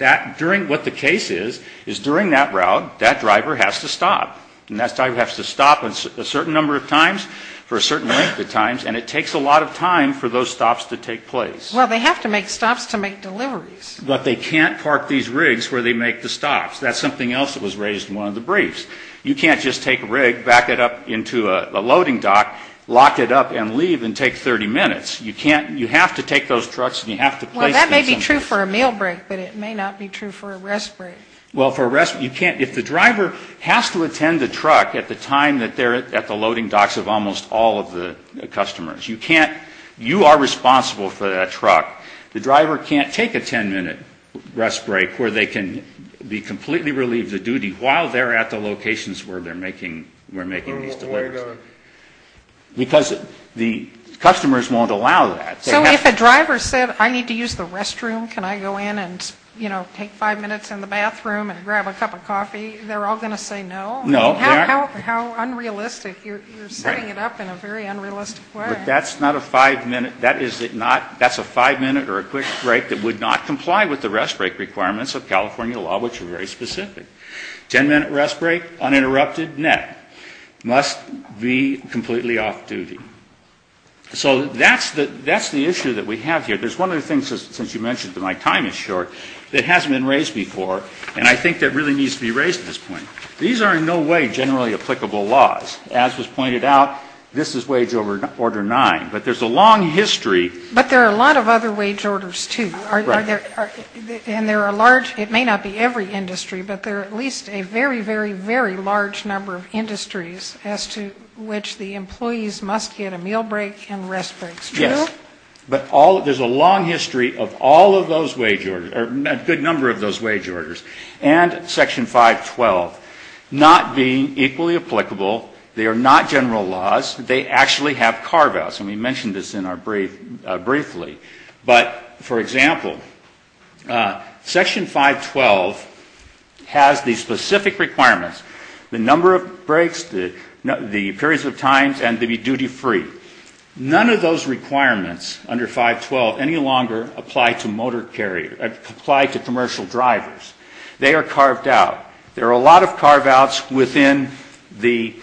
what the case is, is during that route, that driver has to stop. And that driver has to stop a certain number of times for a certain length of times, and it takes a lot of time for those stops to take place. Well, they have to make stops to make deliveries. But they can't park these rigs where they make the stops. That's something else that was raised in one of the briefs. You can't just take a rig, back it up into a loading dock, lock it up, and leave and take 30 minutes. You can't. You have to take those trucks, and you have to place them somewhere. Well, that may be true for a meal break, but it may not be true for a rest break. Well, for a rest break, you can't. If the driver has to attend the truck at the time that they're at the loading You are responsible for that truck. The driver can't take a 10-minute rest break where they can be completely relieved of duty while they're at the locations where they're making these deliveries. Because the customers won't allow that. So if a driver said, I need to use the restroom, can I go in and, you know, take five minutes in the bathroom and grab a cup of coffee, they're all going to say no? No. How unrealistic. You're setting it up in a very unrealistic way. But that's not a five-minute, that is not, that's a five-minute or a quick break that would not comply with the rest break requirements of California law, which are very specific. Ten-minute rest break, uninterrupted, net. Must be completely off duty. So that's the issue that we have here. There's one other thing, since you mentioned that my time is short, that hasn't been raised before, and I think that really needs to be raised at this point. These are in no way generally applicable laws. As was pointed out, this is Wage Order 9. But there's a long history. But there are a lot of other wage orders, too. Right. And there are large, it may not be every industry, but there are at least a very, very, very large number of industries as to which the employees must get a meal break and rest breaks. Yes. But all, there's a long history of all of those wage orders, or a good number of those wage orders, and Section 512 not being equally applicable. They are not general laws. They actually have carve-outs. And we mentioned this briefly. But, for example, Section 512 has the specific requirements, the number of breaks, the periods of time, and to be duty-free. None of those requirements under 512 any longer apply to motor carrier, apply to commercial drivers. They are carved out. There are a lot of carve-outs within the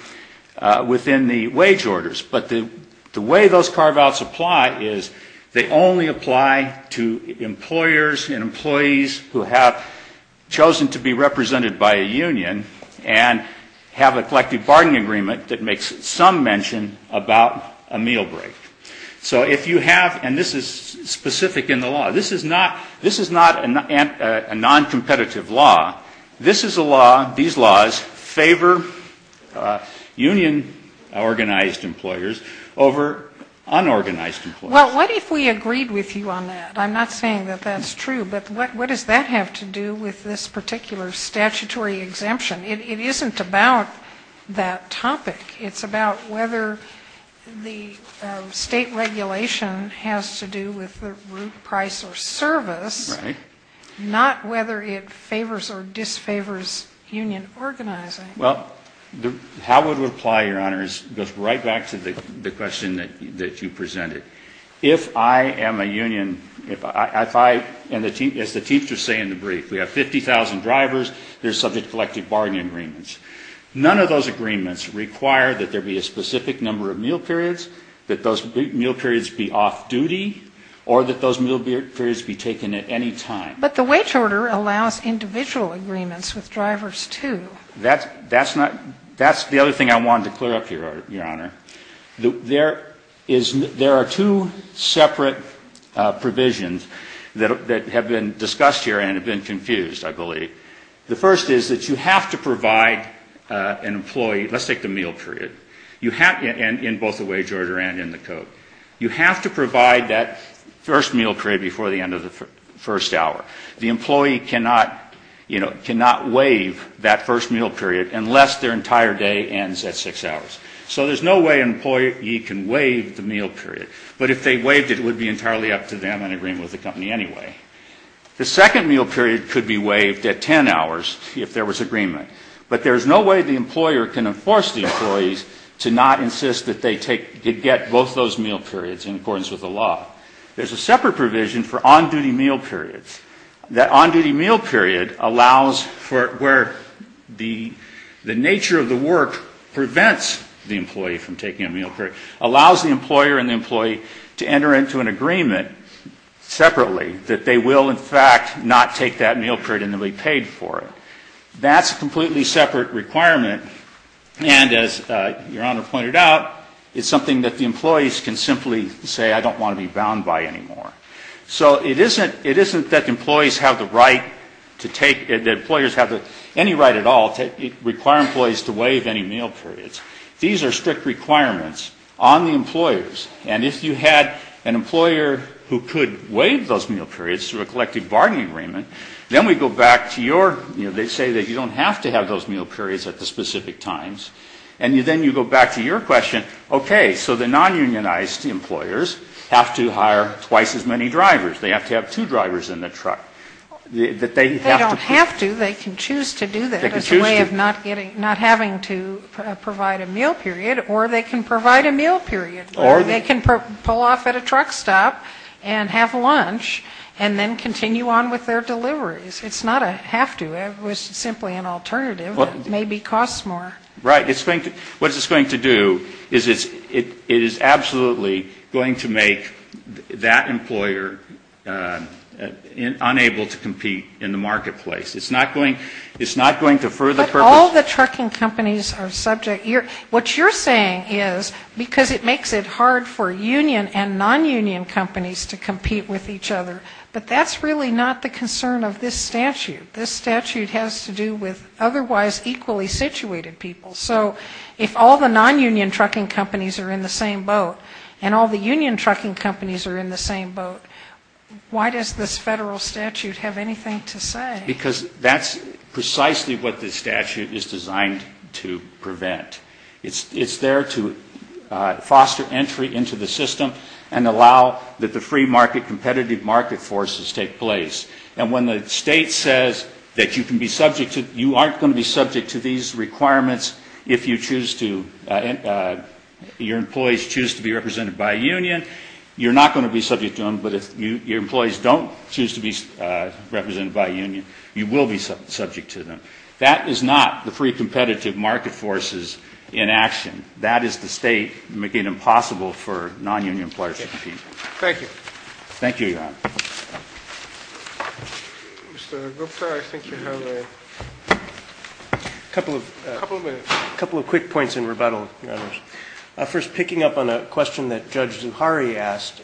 wage orders. But the way those carve-outs apply is they only apply to employers and employees who have chosen to be represented by a union and have a collective bargaining agreement that makes some mention about a meal break. So if you have, and this is specific in the law. This is not a non-competitive law. This is a law, these laws favor union organized employers over unorganized employers. Well, what if we agreed with you on that? I'm not saying that that's true. But what does that have to do with this particular statutory exemption? It isn't about that topic. It's about whether the state regulation has to do with the root price or service. Right. Not whether it favors or disfavors union organizing. Well, how it would apply, Your Honors, goes right back to the question that you presented. If I am a union, if I, as the Chiefs are saying in the brief, we have 50,000 drivers, they're subject to collective bargaining agreements. None of those agreements require that there be a specific number of meal periods, that those meal periods be off-duty, or that those meal periods be taken at any time. But the wage order allows individual agreements with drivers, too. That's not, that's the other thing I wanted to clear up here, Your Honor. There is, there are two separate provisions that have been discussed here and have been confused, I believe. The first is that you have to provide an employee, let's take the meal period, in both the wage order and in the code. You have to provide that first meal period before the end of the first hour. The employee cannot, you know, cannot waive that first meal period unless their entire day ends at six hours. So there's no way an employee can waive the meal period. But if they waived it, it would be entirely up to them in agreement with the company anyway. The second meal period could be waived at ten hours if there was agreement. But there's no way the employer can enforce the employees to not insist that they take, get both those meal periods in accordance with the law. There's a separate provision for on-duty meal periods. That on-duty meal period allows for, where the nature of the work prevents the employee from taking a meal period, allows the employer and the employee to not take that meal period and to be paid for it. That's a completely separate requirement. And as Your Honor pointed out, it's something that the employees can simply say, I don't want to be bound by anymore. So it isn't that employees have the right to take, that employers have any right at all to require employees to waive any meal periods. These are strict requirements on the employers. And if you had an employer who could waive those meal periods through a collective bargaining agreement, then we go back to your, you know, they say that you don't have to have those meal periods at the specific times. And then you go back to your question, okay, so the non-unionized employers have to hire twice as many drivers. They have to have two drivers in the truck. That they have to put. They don't have to. They can choose to do that. They can choose to. As a way of not getting, not having to provide a meal period. Or they can provide a meal period. Or they can pull off at a truck stop and have lunch. And then continue on with their deliveries. It's not a have to. It was simply an alternative that maybe costs more. Right. What it's going to do is it is absolutely going to make that employer unable to compete in the marketplace. It's not going to further purpose. But all the trucking companies are subject. What you're saying is because it makes it hard for union and non-union companies to compete with each other. But that's really not the concern of this statute. This statute has to do with otherwise equally situated people. So if all the non-union trucking companies are in the same boat, and all the union trucking companies are in the same boat, why does this federal statute have anything to say? Because that's precisely what this statute is designed to prevent. It's there to foster entry into the system and allow that the free market competitive market forces take place. And when the state says that you can be subject to, you aren't going to be subject to these requirements if you choose to, your employees choose to be represented by a union, you're not going to be subject to them. But if your employees don't choose to be represented by a union, you will be subject to them. That is not the free competitive market forces in action. That is the state making it impossible for non-union employers to compete. Thank you. Thank you, Your Honor. Mr. Gupta, I think you have a couple of quick points in rebuttal. First, picking up on a question that Judge Zuhari asked,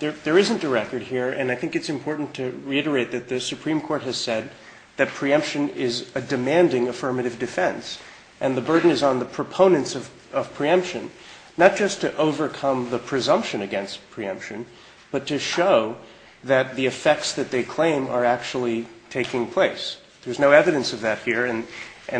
there isn't a record here, and I think it's important to reiterate that the Supreme Court has said that preemption is a demanding affirmative defense, and the burden is on the proponents of preemption, not just to overcome the presumption against preemption, but to show that the effects that they claim are actually taking place. There's no evidence of that here, and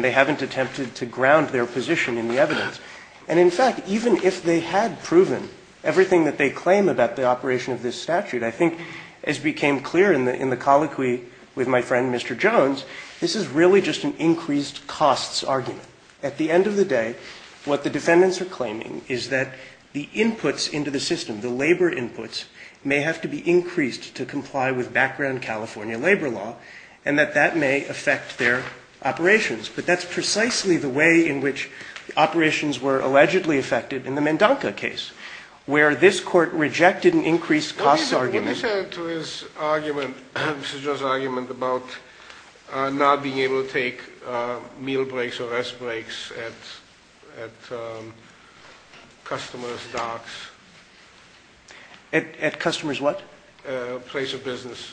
they haven't attempted to ground their position in the evidence. And in fact, even if they had proven everything that they claim about the operation of this statute, I think as became clear in the colloquy with my friend Mr. Jones, this is really just an increased costs argument. At the end of the day, what the defendants are claiming is that the inputs into the system, the labor inputs, may have to be increased to comply with background California labor law, and that that may affect their operations. But that's precisely the way in which operations were allegedly affected in the Mendonca case, where this Court rejected an increased costs argument. What is there to this argument, Mr. Jones' argument about not being able to take meal breaks or rest breaks at customers' docks? At customers' what? Place of business.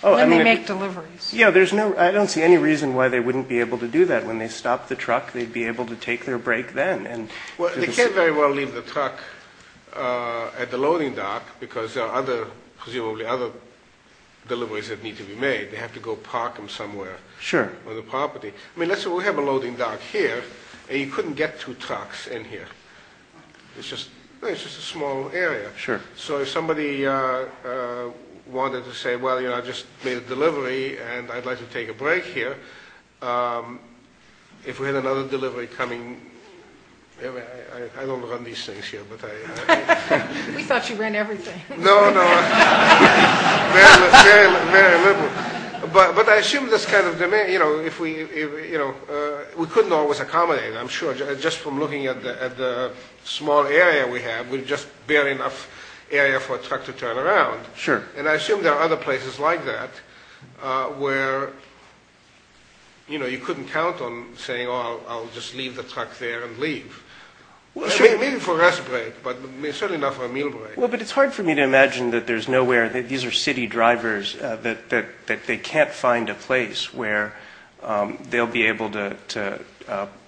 When they make deliveries. Yeah, I don't see any reason why they wouldn't be able to do that. When they stop the truck, they'd be able to take their break then. Well, they can't very well leave the truck at the loading dock because there are presumably other deliveries that need to be made. They have to go park them somewhere on the property. I mean, let's say we have a loading dock here, and you couldn't get two trucks in here. It's just a small area. Sure. So if somebody wanted to say, well, I just made a delivery, and I'd like to take a break here. If we had another delivery coming, I don't run these things here. We thought you ran everything. No, no. Very liberal. But I assume this kind of demand, you know, we couldn't always accommodate it, I'm sure. Just from looking at the small area we have, we have just barely enough area for a truck to turn around. Sure. And I assume there are other places like that where, you know, you couldn't count on saying, oh, I'll just leave the truck there and leave. Maybe for a rest break, but certainly not for a meal break. Well, but it's hard for me to imagine that there's nowhere, that these are city drivers, that they can't find a place where they'll be able to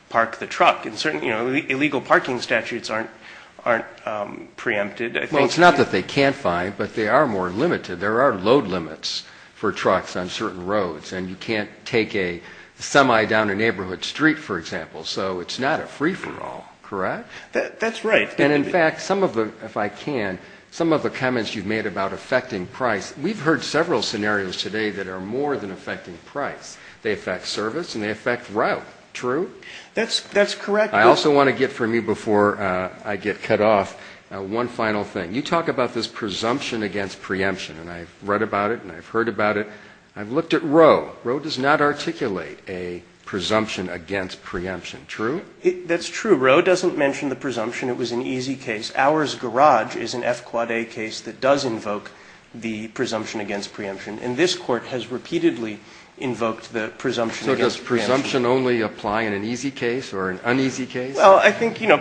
park the truck. Illegal parking statutes aren't preempted. Well, it's not that they can't find, but they are more limited. There are load limits for trucks on certain roads, and you can't take a semi down a neighborhood street, for example. So it's not a free-for-all, correct? That's right. And in fact, some of the, if I can, some of the comments you've made about affecting price, we've heard several scenarios today that are more than affecting price. They affect service, and they affect route. True? That's correct. I also want to get from you before I get cut off, one final thing. You talk about this presumption against preemption, and I've read about it, and I've heard about it. I've looked at Roe. Roe does not articulate a presumption against preemption. True? That's true. Roe doesn't mention the presumption. It was an easy case. Ours garage is an F quad A case that does invoke the presumption against preemption, and this court has repeatedly invoked the presumption against preemption. So does presumption only apply in an easy case or an uneasy case? Well, I think, you know,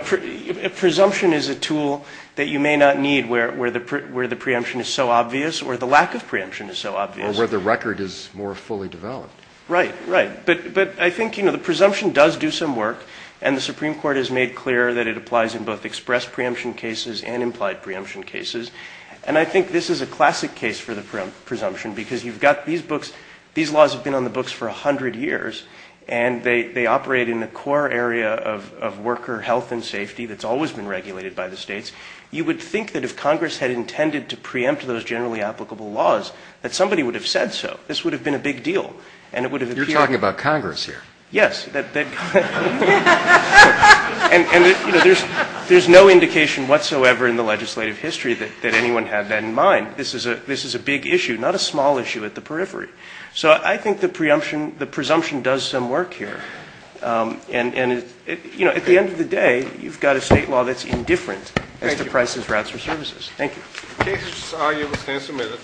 presumption is a tool that you may not need where the preemption is so obvious or the lack of preemption is so obvious. Or where the record is more fully developed. Right, right. But I think, you know, the presumption does do some work, and the Supreme Court has made clear that it applies in both expressed preemption cases and implied preemption cases. And I think this is a classic case for the presumption because you've got these books. These laws have been on the books for 100 years, and they operate in the core area of worker health and safety that's always been regulated by the states. You would think that if Congress had intended to preempt those generally applicable laws, that somebody would have said so. This would have been a big deal, and it would have appeared. You're talking about Congress here. Yes. And, you know, there's no indication whatsoever in the legislative history that anyone had that in mind. This is a big issue, not a small issue at the periphery. So I think the presumption does some work here. And, you know, at the end of the day, you've got a state law that's indifferent as to prices, routes, or services. Thank you. The case is argued and submitted.